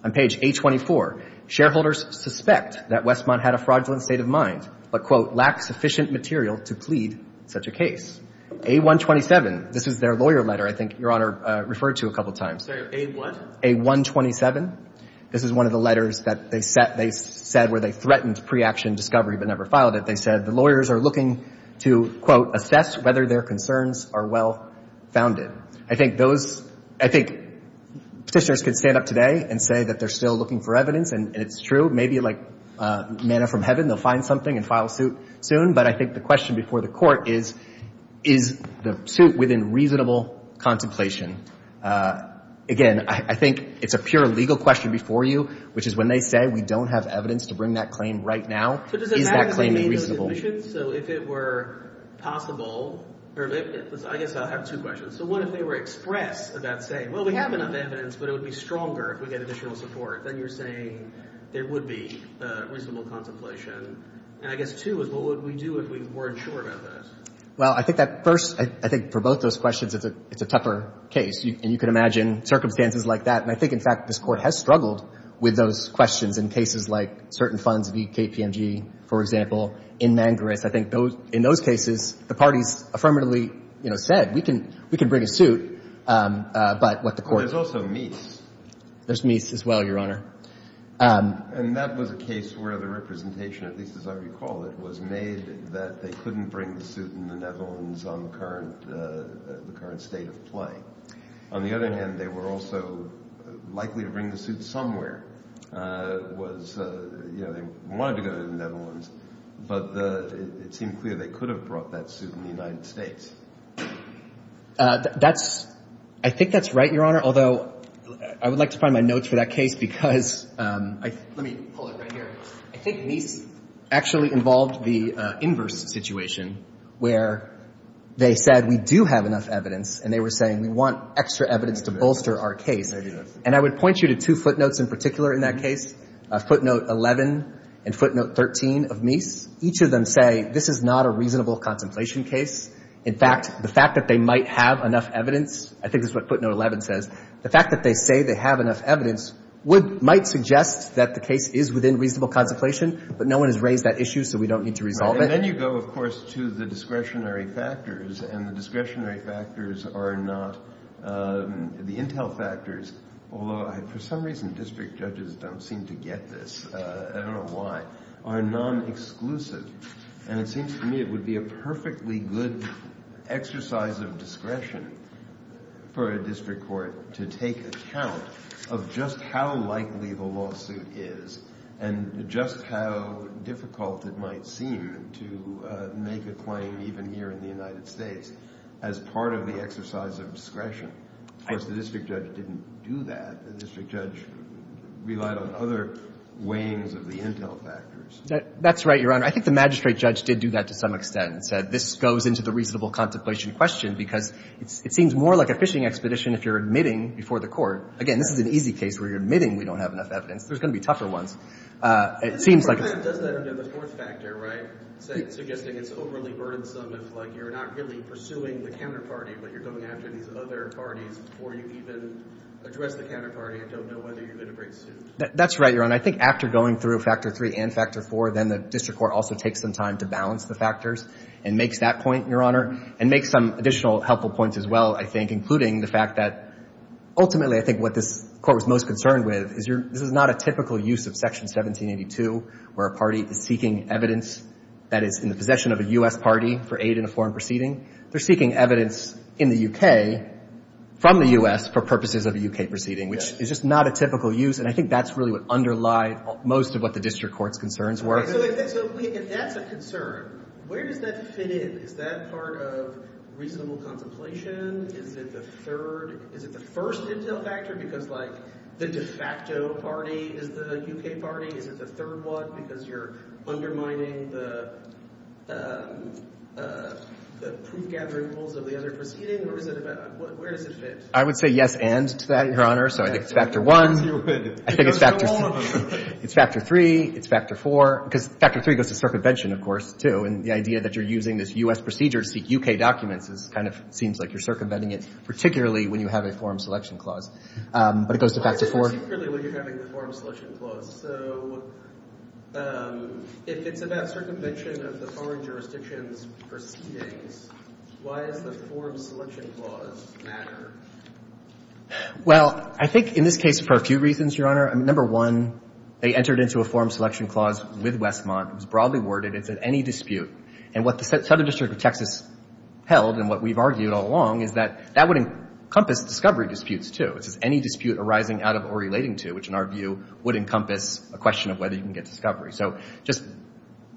On page 824, shareholders suspect that Westmont had a fraudulent state of mind, but, quote, lack sufficient material to plead such a case. A127, this is their lawyer letter I think Your Honor referred to a couple times. A what? A127. This is one of the letters that they've said where they threatened pre-action discovery but never filed it. They said the lawyers are looking to, quote, assess whether their concerns are well founded. I think those, I think petitioners could stand up today and say that they're still looking for evidence, and it's true, maybe like manna from heaven they'll find something and file suit soon, but I think the question before the court is, is the suit within reasonable contemplation? Again, I think it's a pure legal question before you, which is when they say we don't have evidence to bring that claim right now, is that claim reasonable? So if it were possible, I guess I have two questions. So what if they were express about saying, well, we have enough evidence, but it would be stronger if we get additional support, then you're saying it would be reasonable contemplation. And I guess two is what would we do if we weren't sure about this? Well, I think that first, I think for both those questions it's a tougher case, and you can imagine circumstances like that, and I think in fact this court has struggled with those questions in cases like certain funds, the KPMG, for example, in Mangareth. I think in those cases the parties affirmatively said we can bring a suit, but let the court decide. There's also Meese. There's Meese as well, Your Honor. And that was a case where the representation, at least as I recall it, was made that they couldn't bring the suit in the Netherlands on the current state of play. On the other hand, they were also likely to bring the suit somewhere. It was, you know, they wanted to go to the Netherlands, but it seemed clear they could have brought that suit in the United States. I think that's right, Your Honor, although I would like to find my notes for that case because I think Meese actually involved the inverse situation where they said we do have enough evidence, and they were saying we want extra evidence to bolster our case. And I would point you to two footnotes in particular in that case, footnote 11 and footnote 13 of Meese. Each of them say this is not a reasonable contemplation case. In fact, the fact that they might have enough evidence, I think this is what footnote 11 says, the fact that they say they have enough evidence might suggest that the case is within reasonable contemplation, but no one has raised that issue, so we don't need to resolve it. And then you go, of course, to the discretionary factors, and the discretionary factors are not the intel factors, although for some reason district judges don't seem to get this. I don't know why. They are non-exclusive, and it seems to me it would be a perfectly good exercise of discretion for a district court to take account of just how likely the lawsuit is and just how difficult it might seem to make a claim, even here in the United States, as part of the exercise of discretion. Of course, the district judge didn't do that. The district judge relied on other weighings of the intel factors. That's right, Your Honor. I think the magistrate judge did do that to some extent, that this goes into the reasonable contemplation question because it seems more like a fishing expedition if you're admitting before the court. Again, this is an easy case where you're admitting you don't have enough evidence. There's going to be tougher ones. It seems like... You said that there's a source factor, right? So you're saying it's overly burdensome. It's like you're not really pursuing the counterparty, but you're going after these other parties before you even address the counterparty and don't know whether you're going to break the suit. That's right, Your Honor. I think after going through Factor 3 and Factor 4, then the district court also takes some time to balance the factors and make that point, Your Honor, and make some additional helpful points as well, I think, including the fact that ultimately I think what this court was most concerned with is this is not a typical use of Section 1782 where a party is seeking evidence that it's in the possession of a U.S. party for aid in a foreign proceeding. They're seeking evidence in the U.K. from the U.S. for purposes of a U.K. proceeding, which is just not a typical use, and I think that's really what underlies most of what the district court's concerns were. So if we can add the concern, where does that fit in? Is that part of reasonable contemplation? Is it the first intel factor? Because, like, the de facto party is the U.K. party? Is it the third clause because you're undermining the proof-gathering rules of the other proceeding? Where does this fit? I would say yes and to that, Your Honor. So I think it's Factor 1. I think it's Factor 3. It's Factor 4. Because Factor 3 goes to circumvention, of course, too, and the idea that you're using this U.S. procedure to seek U.K. documents kind of seems like you're circumventing it, particularly when you have a forum selection clause. But it goes to Factor 4. Particularly when you're having a forum selection clause. So if it's about circumvention of the following jurisdictions' proceedings, why does the forum selection clause matter? Well, I think in this case for a few reasons, Your Honor. Number one, they entered into a forum selection clause with Westmont. It was broadly worded. It's in any dispute. And what the Southern District of Texas held and what we've argued all along is that that would encompass discovery disputes, too. Any dispute arising out of or relating to, which in our view, would encompass a question of whether you can get discovery. So just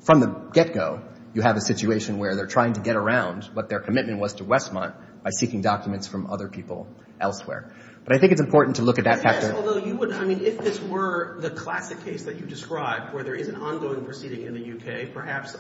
from the get-go, you have a situation where they're trying to get around what their commitment was to Westmont by seeking documents from other people elsewhere. But I think it's important to look at that factor. Yes, although if this were the classic case that you described, where there is an ongoing proceeding in the U.K., perhaps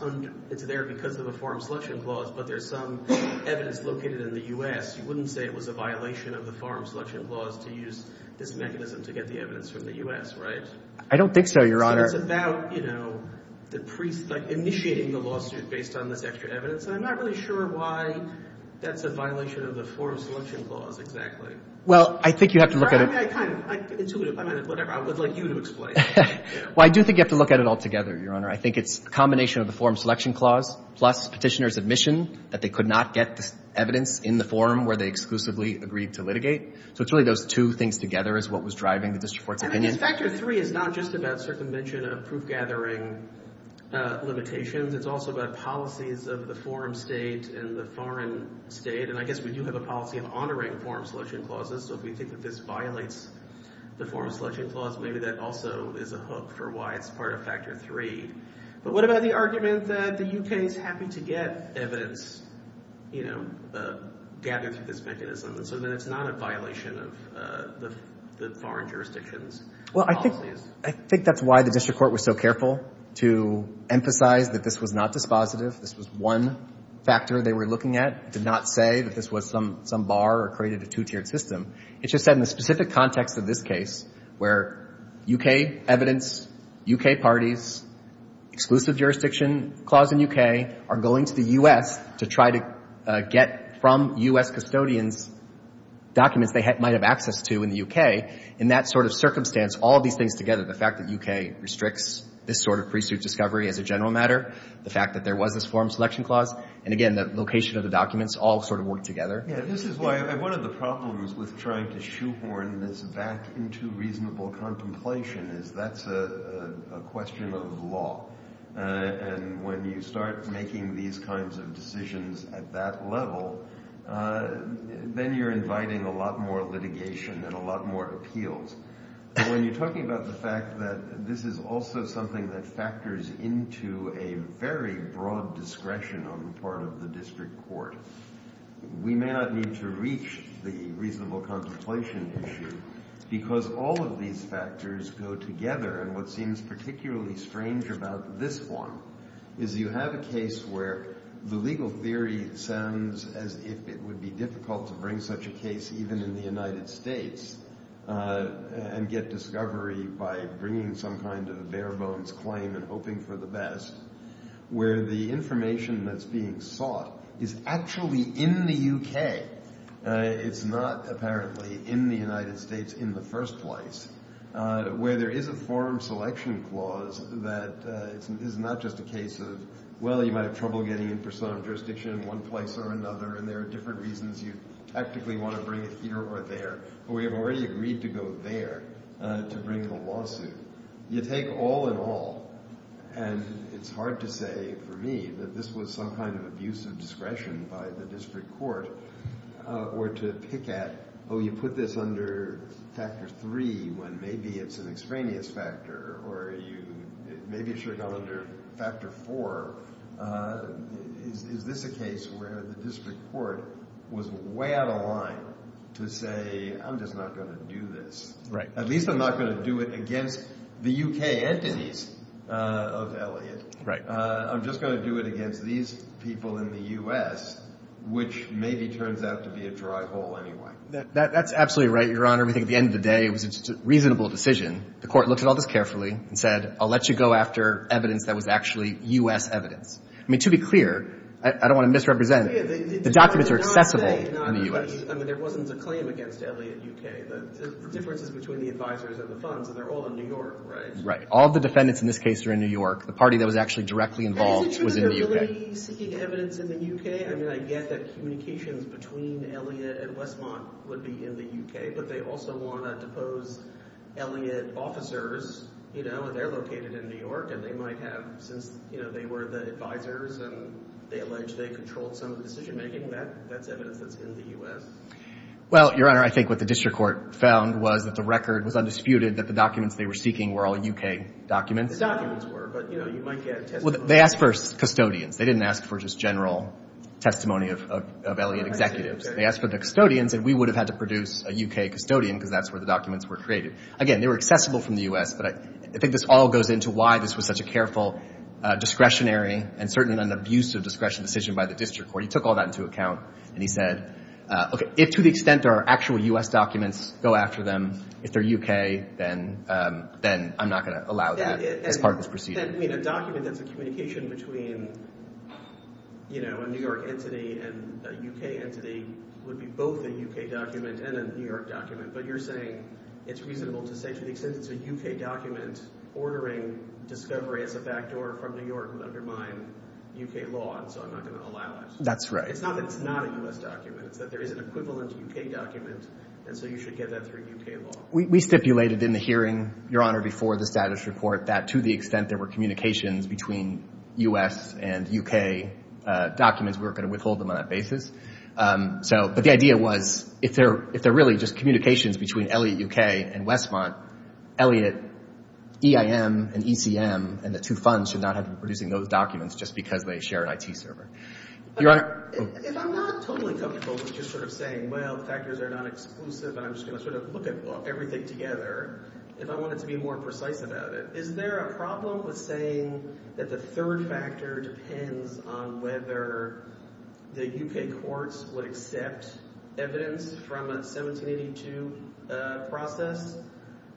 it's there because of the forum selection clause, but there's some evidence located in the U.S., you wouldn't say it was a violation of the forum selection clause to use this mechanism to get the evidence from the U.S., right? I don't think so, Your Honor. It's about, you know, initiating the lawsuit based on this extra evidence. And I'm not really sure why that's a violation of the forum selection clause exactly. Well, I think you have to look at it. I mean, I kind of, I'm intuitive. I mean, whatever. I would like you to explain. Well, I do think you have to look at it altogether, Your Honor. I think it's a combination of the forum selection clause plus petitioner's admission that they could not get evidence in the forum where they exclusively agreed to litigate. So it's really those two things together is what was driving the District Court's opinion. And then Section 3 is not just about circumvention of proof-gathering limitations. It's also about policies of the forum state and the foreign state. And I guess we do have a policy of honoring forum selection clauses. So if we think that this violates the forum selection clause, maybe that also is a hook for why it's part of Factor 3. But what about the argument that the U.K. is happy to get evidence, you know, gathered through this mechanism so that it's not a violation of the foreign jurisdiction's policies? Well, I think that's why the District Court was so careful to emphasize that this was not dispositive. This was one factor they were looking at. It did not say that this was some bar or created a two-tiered system. It just said in the specific context of this case where U.K. evidence, U.K. parties, exclusive jurisdiction clause in U.K. are going to the U.S. to try to get from U.S. custodians documents they might have access to in the U.K. In that sort of circumstance, all these things together, the fact that U.K. restricts this sort of pre-suit discovery as a general matter, the fact that there was this forum selection clause, and again the location of the documents all sort of work together. Yeah, this is why one of the problems with trying to shoehorn this back into reasonable contemplation is that's a question of law. And when you start making these kinds of decisions at that level, then you're inviting a lot more litigation and a lot more appeals. When you're talking about the fact that this is also something that factors into a very broad discretion on the part of the District Court, we may not need to reach the reasonable contemplation issue because all of these factors go together. And what seems particularly strange about this one is you have a case where the legal theory sounds as if it would be difficult to bring such a case even in the United States and get discovery by bringing some kind of bare-bones claim and hoping for the best, where the information that's being sought is actually in the UK. It's not, apparently, in the United States in the first place, where there is a forum selection clause that is not just a case of, well, you might have trouble getting in for some jurisdiction in one place or another and there are different reasons you tactically want to bring it here or there, but we have already agreed to go there to bring the lawsuit. You take all in all. And it's hard to say, for me, that this was some kind of abuse of discretion by the District Court or to pick at, oh, you put this under factor three when maybe it's an extraneous factor or maybe it should go under factor four. Is this a case where the District Court was way out of line to say, I'm just not going to do this. At least I'm not going to do it against the UK entities of Elliot. I'm just going to do it against these people in the U.S., which maybe turns out to be a dry hole anyway. That's absolutely right, Your Honor. I think at the end of the day it was a reasonable decision. The Court looked at all this carefully and said, I'll let you go after evidence that was actually U.S. evidence. I mean, to be clear, I don't want to misrepresent, the documents are acceptable in the U.S. I mean, there wasn't a claim against Elliot UK, but there's differences between the advisors and the funds, and they're all in New York, right? Right. All the defendants in this case are in New York. The party that was actually directly involved was in the UK. But isn't there already significant evidence in the UK? I mean, I get that communication between Elliot and Westmont would be in the UK, but they also want to oppose Elliot officers, you know, and they're located in New York and they might have, since they were the advisors and they allege they control some of the decision-making, that's evidence that's in the U.S. Well, Your Honor, I think what the District Court found was that the record was undisputed that the documents they were seeking were all UK documents. The documents were, but you know, you might get testimonies. Well, they asked for custodians. They didn't ask for just general testimony of Elliot executives. They asked for the custodians, and we would have had to produce a UK custodian because that's where the documents were created. Again, they were accessible from the U.S., but I think this all goes into why this was such a careful discretionary and certainly an abusive discretionary decision by the District Court. He took all that into account, and he said, okay, if to the extent there are actual U.S. documents, go after them. If they're UK, then I'm not going to allow that as part of this procedure. And, I mean, a document that's a communication between, you know, a New York entity and a UK entity would be both a UK document and a New York document, but you're saying it's reasonable to say to the extent it's a UK document, ordering discovery of a back door from New York would undermine UK law, and so I'm not going to allow that. That's right. It's not a U.S. document, but there is an equivalent UK document, and so you should get that through UK law. We stipulated in the hearing, Your Honor, before the status report, that to the extent there were communications between U.S. and UK documents, we were going to withhold them on that basis. But the idea was if they're really just communications between Elliot UK and Westmont, Elliot EIM and ETM and the two funds should not have to be producing those documents just because they share an IT server. Your Honor? If I'm not totally comfortable with just sort of saying, well, factors are not exclusive, I'm just going to sort of look at everything together, if I wanted to be more precise about it, is there a problem with saying that the third factor depends on whether the UK courts would accept evidence from a 1782 process?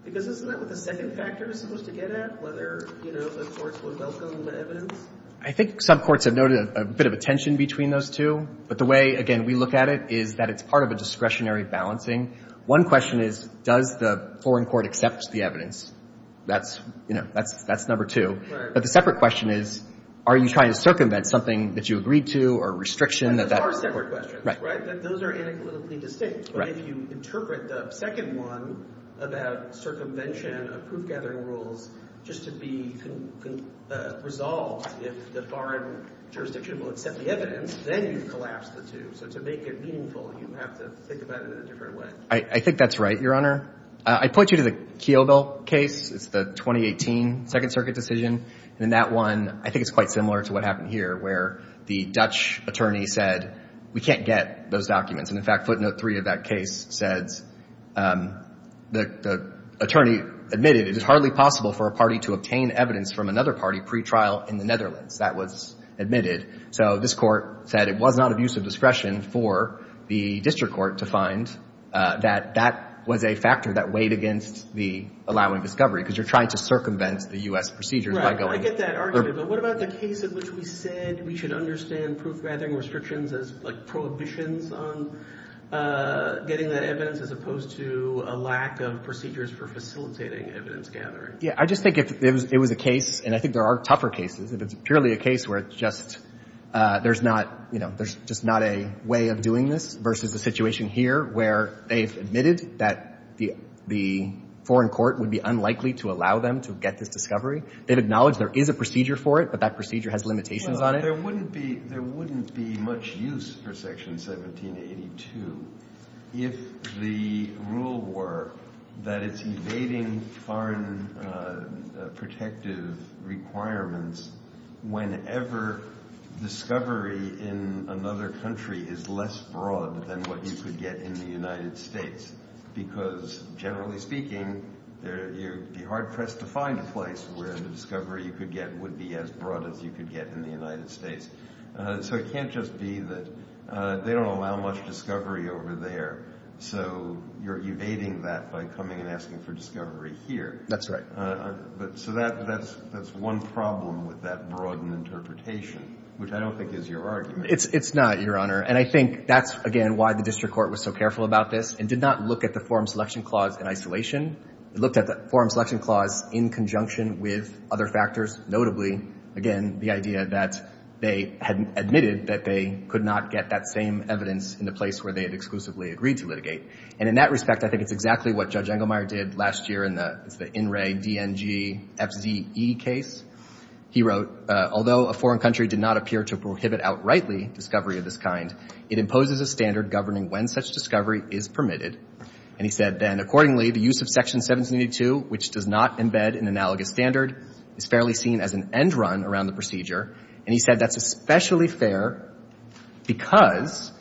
Because isn't that what the second factor is supposed to get at, whether the courts would welcome the evidence? I think some courts have noted a bit of a tension between those two, but the way, again, we look at it is that it's part of a discretionary balancing. One question is, does the foreign court accept the evidence? That's number two. But the separate question is, are you trying to circumvent something that you agreed to or restriction of that court? That's a far separate question. Right? Those are inequitably distinct. Right. But if you interpret the second one about circumvention of food gathering rules just to be resolved if the foreign jurisdiction won't accept the evidence, then you collapse the two. So to make it meaningful, you have to think about it in a different way. I think that's right, Your Honor. I point you to the Keogh case, the 2018 Second Circuit decision. In that one, I think it's quite similar to what happened here, where the Dutch attorney said, we can't get those documents. In fact, footnote three of that case said the attorney admitted, it is hardly possible for a party to obtain evidence from another party pre-trial in the Netherlands. That was admitted. So this court said it was not a use of discretion for the district court to find that that was a factor that weighed against the allowing discovery, because you're trying to circumvent the U.S. procedure. I get that argument. But what about the case in which we said we should understand proof-gathering restrictions as prohibitions on getting the evidence as opposed to a lack of procedures for facilitating evidence gathering? Yeah. I just think if it was a case, and I think there are tougher cases, if it's purely a case where it's just there's not a way of doing this versus the situation here where it's admitted that the foreign court would be unlikely to allow them to get this discovery, they'd acknowledge there is a procedure for it, but that procedure has limitations on it. There wouldn't be much use for Section 1782 if the rule were that it's evading foreign protective requirements whenever discovery in another country is less broad than what you could get in the United States, because generally speaking, you'd be hard-pressed to find a place where the discovery you could get would be as broad as you could get in the United States. So it can't just be that they don't allow much discovery over there, so you're evading that by coming and asking for discovery here. That's right. So that's one problem with that broad interpretation, which I don't think is your argument. It's not, Your Honor. And I think that's, again, why the district court was so careful about this and did not look at the Foreign Selection Clause in isolation. It looked at the Foreign Selection Clause in conjunction with other factors, notably, again, the idea that they had admitted that they could not get that same evidence in the place where they had exclusively agreed to litigate. And in that respect, I think it's exactly what Judge Engelmeyer did last year in the INRE, DNG, FZE case. He wrote, Although a foreign country did not appear to prohibit outrightly discovery of this kind, it imposes a standard governing when such discovery is permitted. And he said then, Accordingly, the use of Section 1782, which does not embed an analogous standard, is fairly seen as an end run around the procedure. And he said that's especially fair because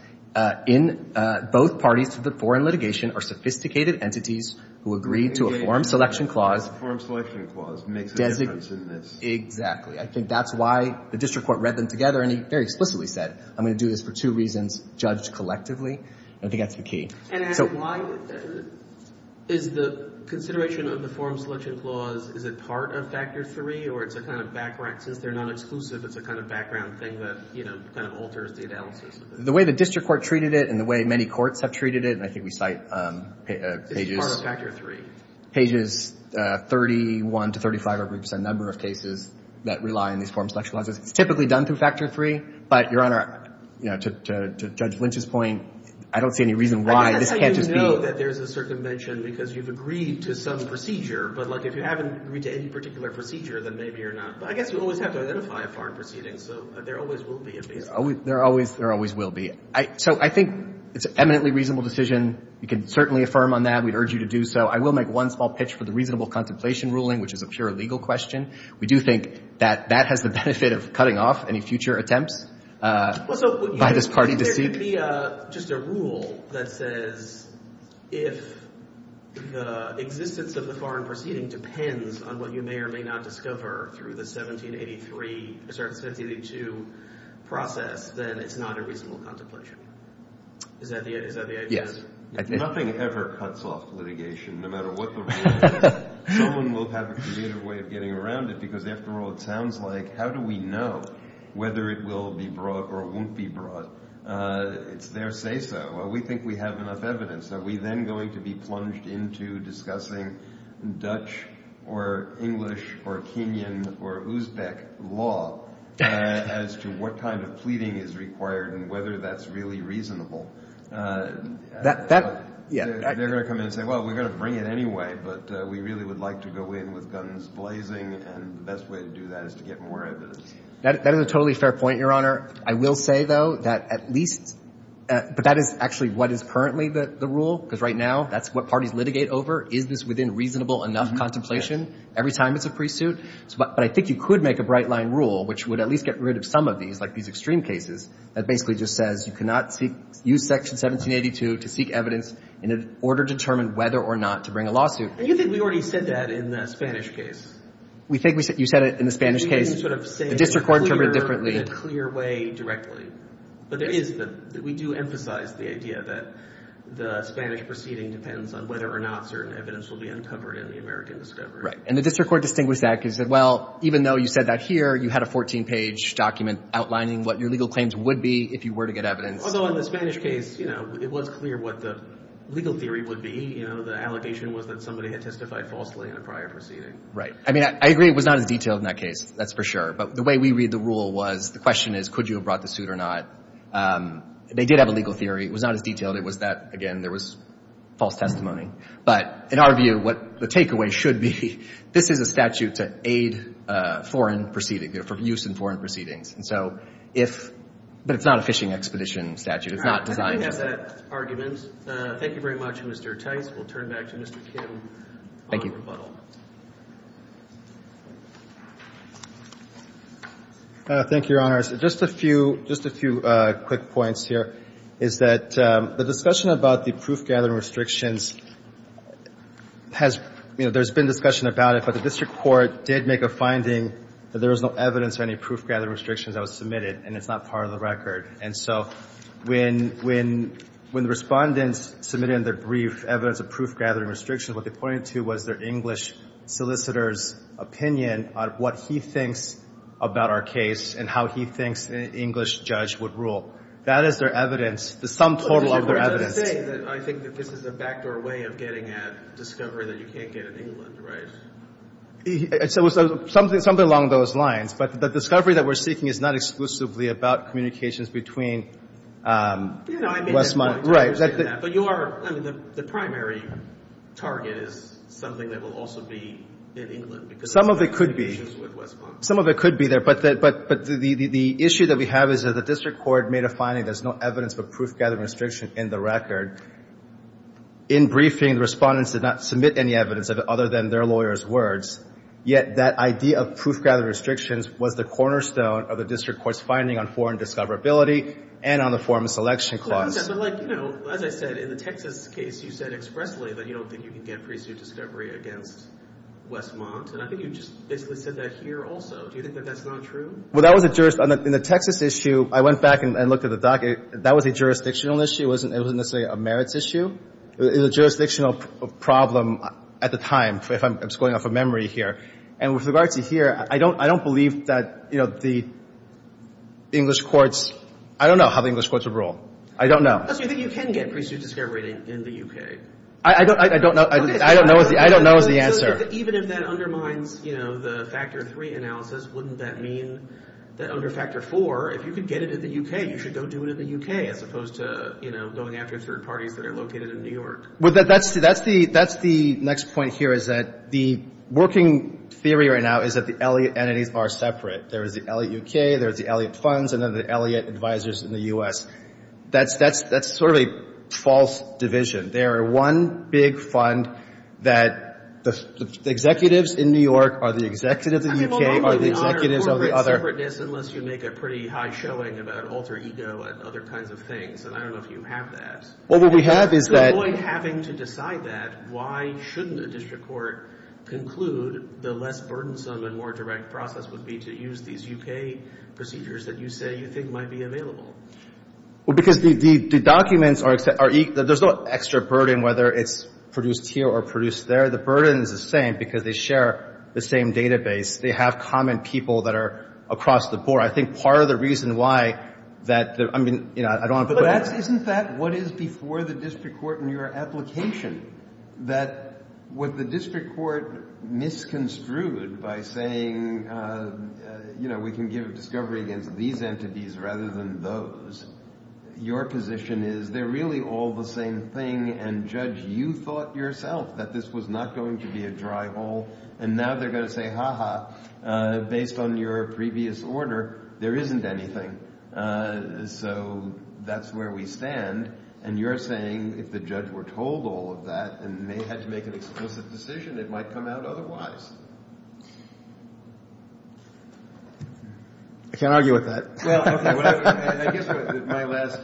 in both parties to the foreign litigation are sophisticated entities who agree to a Foreign Selection Clause. The Foreign Selection Clause makes a difference in this. Exactly. I think that's why the district court read them together and he very explicitly said, I'm going to do this for two reasons judged collectively. I think that's the key. And why is the consideration of the Foreign Selection Clause, is it part of Factor 3 or is it kind of background? Since they're not exclusive, it's a kind of background thing that, you know, kind of alters the analysis. The way the district court treated it and the way many courts have treated it, and I think we cite pages. It's part of Factor 3. Pages 31 to 35 are a number of cases that rely on these Foreign Selection Clauses. Typically done through Factor 3, but Your Honor, you know, to Judge Lynch's point, I don't see any reason why this can't be. I think you know that there's a certain mention because you've agreed to some procedure, but like if you haven't agreed to any particular procedure, then maybe you're not. But I guess you always have to identify a foreign proceeding, so there always will be. There always will be. So I think it's an eminently reasonable decision. You can certainly affirm on that. We'd urge you to do so. I will make one small pitch for the reasonable compensation ruling, which is a pure legal question. We do think that that has the benefit of cutting off any future attempts by this party to sue. There should be just a rule that says if the existence of the foreign proceeding depends on what you may or may not discover through the 1783, 1782 process, then it's not a reasonable contemplation. Is that the idea? Nothing ever cuts off litigation, no matter what the rule is. No one will have a creative way of getting around it because that's the rule. So it sounds like how do we know whether it will be brought or won't be brought? If they say so, we think we have enough evidence. Are we then going to be plunged into discussing Dutch or English or Kenyan or Uzbek law as to what kind of pleading is required and whether that's really reasonable? They're going to come in and say, well, we're going to bring it anyway, but we really would like to go in with guns blazing and the best way to do that is to get more evidence. That is a totally fair point, Your Honor. I will say, though, that at least, but that is actually what is currently the rule because right now that's what parties litigate over. Is this within reasonable enough contemplation every time it's a pre-suit? But I think you could make a bright line rule which would at least get rid of some of these, like these extreme cases, that basically just says you cannot use Section 1782 to seek evidence in order to determine whether or not to bring a lawsuit. And you think we already said that in the Spanish case. You said it in the Spanish case. The District Court interpreted it differently. But we do emphasize the idea that the Spanish proceeding depends on whether or not certain evidence will be uncovered in the American discovery. And the District Court Distinguished Act is that, well, even though you said that here, you had a 14-page document outlining what your legal claims would be if you were to get evidence. Although in the Spanish case, it was clear what the legal theory would be. The allegation was that somebody had testified falsely in a prior proceeding. Right. I mean, I agree it was not as detailed in that case. That's for sure. But the way we read the rule was, the question is, could you have brought the suit or not? They did have a legal theory. It was not as detailed. It was that, again, there was false testimony. But in our view, what the takeaway should be, this is a statute that aids foreign proceedings, for use in foreign proceedings. But it's not a fishing expedition statute. It's not designed that way. With that argument, thank you very much, Mr. Tate. We'll turn back to Mr. Kim. Thank you, Your Honors. Just a few quick points here. It's that the discussion about the proof-gathering restrictions has, you know, there's been discussion about it, but the District Court did make a finding that there was no evidence of any proof-gathering restrictions that was submitted, and it's not part of the record. And so when the respondents submitted in their brief evidence of proof-gathering restrictions, what they pointed to was their English solicitor's opinion on what he thinks about our case and how he thinks an English judge would rule. That is their evidence, the sum total of their evidence. You're saying that I think that this is a backdoor way of getting at discovery that you can't get in England, right? Something along those lines. But the discovery that we're seeking is not exclusively about communications between Westmont. But you are, I mean, the primary target is something that will also be in England. Some of it could be. Some of it could be there, but the issue that we have is that the District Court made a finding there's no evidence of proof-gathering restrictions in the record. In briefing, the respondents did not submit any evidence other than their lawyers' words, yet that idea of proof-gathering restrictions was the cornerstone of the District Court's finding on foreign discoverability and on the Foreign Selection Clause. As I said, in the Texas case, you said expressly that you don't think you can get a pre-suit discovery against Westmont, and I think you just said that here also. Do you think that that's not true? Well, that was a juris... In the Texas issue, I went back and looked at the docket. That was a jurisdictional issue. It wasn't necessarily a merits issue. It was a jurisdictional problem at the time, if I'm scoring off a memory here. And with regard to here, I don't believe that the English courts... I don't know how the English courts would rule. I don't know. But you can get pre-suit discovery in the U.K. I don't know the answer. Even if that undermines the Factor 3 analysis, wouldn't that mean that under Factor 4, if you could get it in the U.K., you should go do it in the U.K., as opposed to going after third parties that are located in New York? Well, that's the next point here, is that the working theory right now is that the Elliott entities are separate. There is the Elliott U.K., there's the Elliott funds, and then the Elliott advisors in the U.S. That's sort of a false division. They are one big fund that the executives in New York are the executives in the U.K., are the executives of the other... I'm told you can't honor corporate separateness unless you make a pretty high showing about an alter ego and other kinds of things, but I don't know if you have that. Well, what we have is that... If you avoid having to decide that, why shouldn't a district court conclude the less burdensome and more direct process would be to use these U.K. procedures that you say you think might be available? Well, because the documents are... There's no extra burden, whether it's produced here or produced there. The burden is the same because they share the same database. They have common people that are across the board. I think part of the reason why that... Isn't that what is before the district court in your application, that what the district court misconstrued by saying, you know, we can give discovery against these entities rather than those, your position is they're really all the same thing and judge you thought yourself that this was not going to be a dry hole and now they're going to say, ha-ha, based on your previous order, there isn't anything. So that's where we stand and you're saying if the judge were told all of that and they had to make an explicit decision, it might come out otherwise. I can't argue with that. Well, I guess my last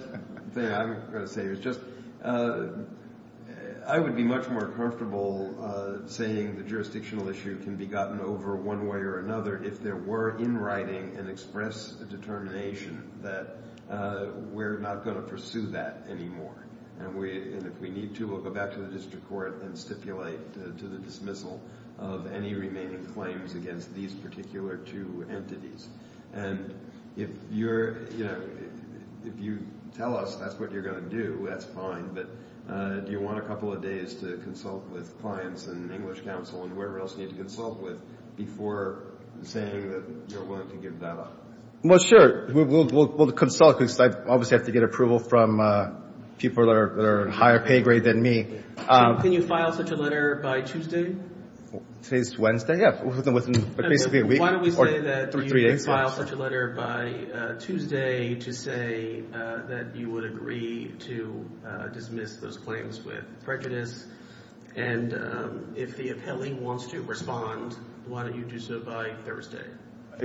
thing I was going to say is just I would be much more comfortable saying the jurisdictional issue can be gotten over one way or another if there were in writing an express determination that we're not going to pursue that anymore and if we need to, we'll go back to the district court and stipulate to the dismissal of any remaining claims against these particular two entities. And if you tell us that's what you're going to do, that's fine, but do you want a couple of days to consult with clients and English counsel and whoever else you need to consult with before saying that you're willing to give that up? Well, sure. We'll consult. I obviously have to get approval from people that are higher pay grade than me. Can you file such a letter by Tuesday? Wednesday, yeah. Why don't we say that you can file such a letter by Tuesday to say that you would agree to dismiss those claims with prejudice and if the appellant wants to respond, why don't you do so by Thursday? At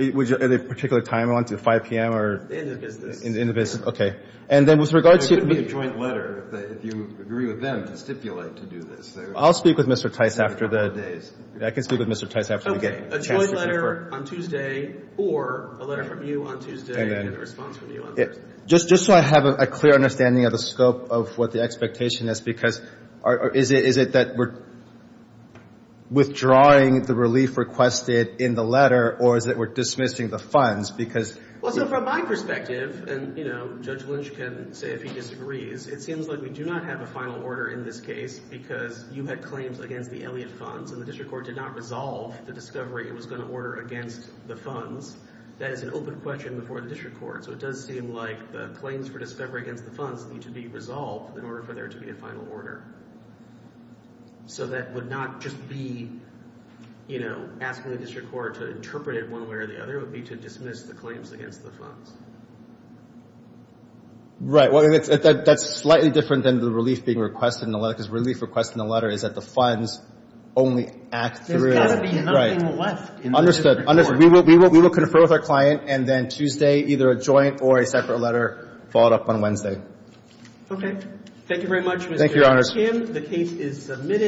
a particular time, 5 p.m.? In the business. In the business, okay. And then with regard to... It could be a joint letter if you agree with them to stipulate to do this. I'll speak with Mr. Tice after the... I can speak with Mr. Tice after the meeting. A joint letter on Tuesday or a letter from you on Tuesday in response to the letter. Just so I have a clear understanding of the scope of what the expectation is because is it that we're withdrawing the relief requested in the letter or is it we're dismissing the funds because... Well, from my perspective, and Judge Lynch can say if he disagrees, it seems like we do not have a final order in this case because you had claims against the Elliott Funds and the district court did not resolve the discovery it was going to order against the funds. That is an open question before the district court, so it does seem like the claims for discovery against the funds need to be resolved in order for there to be a final order. So that would not just be, you know, asking the district court to interpret it one way or the other would be to dismiss the claims against the funds. Right, well, that's slightly different than the relief being requested in the letter because relief requested in the letter is that the funds only act through... There's got to be enough in the left. Understood. We will confer with our client and then Tuesday, either a joint or a separate letter followed up on Wednesday. Okay. Thank you very much, Mr. Jim. The case is submitted.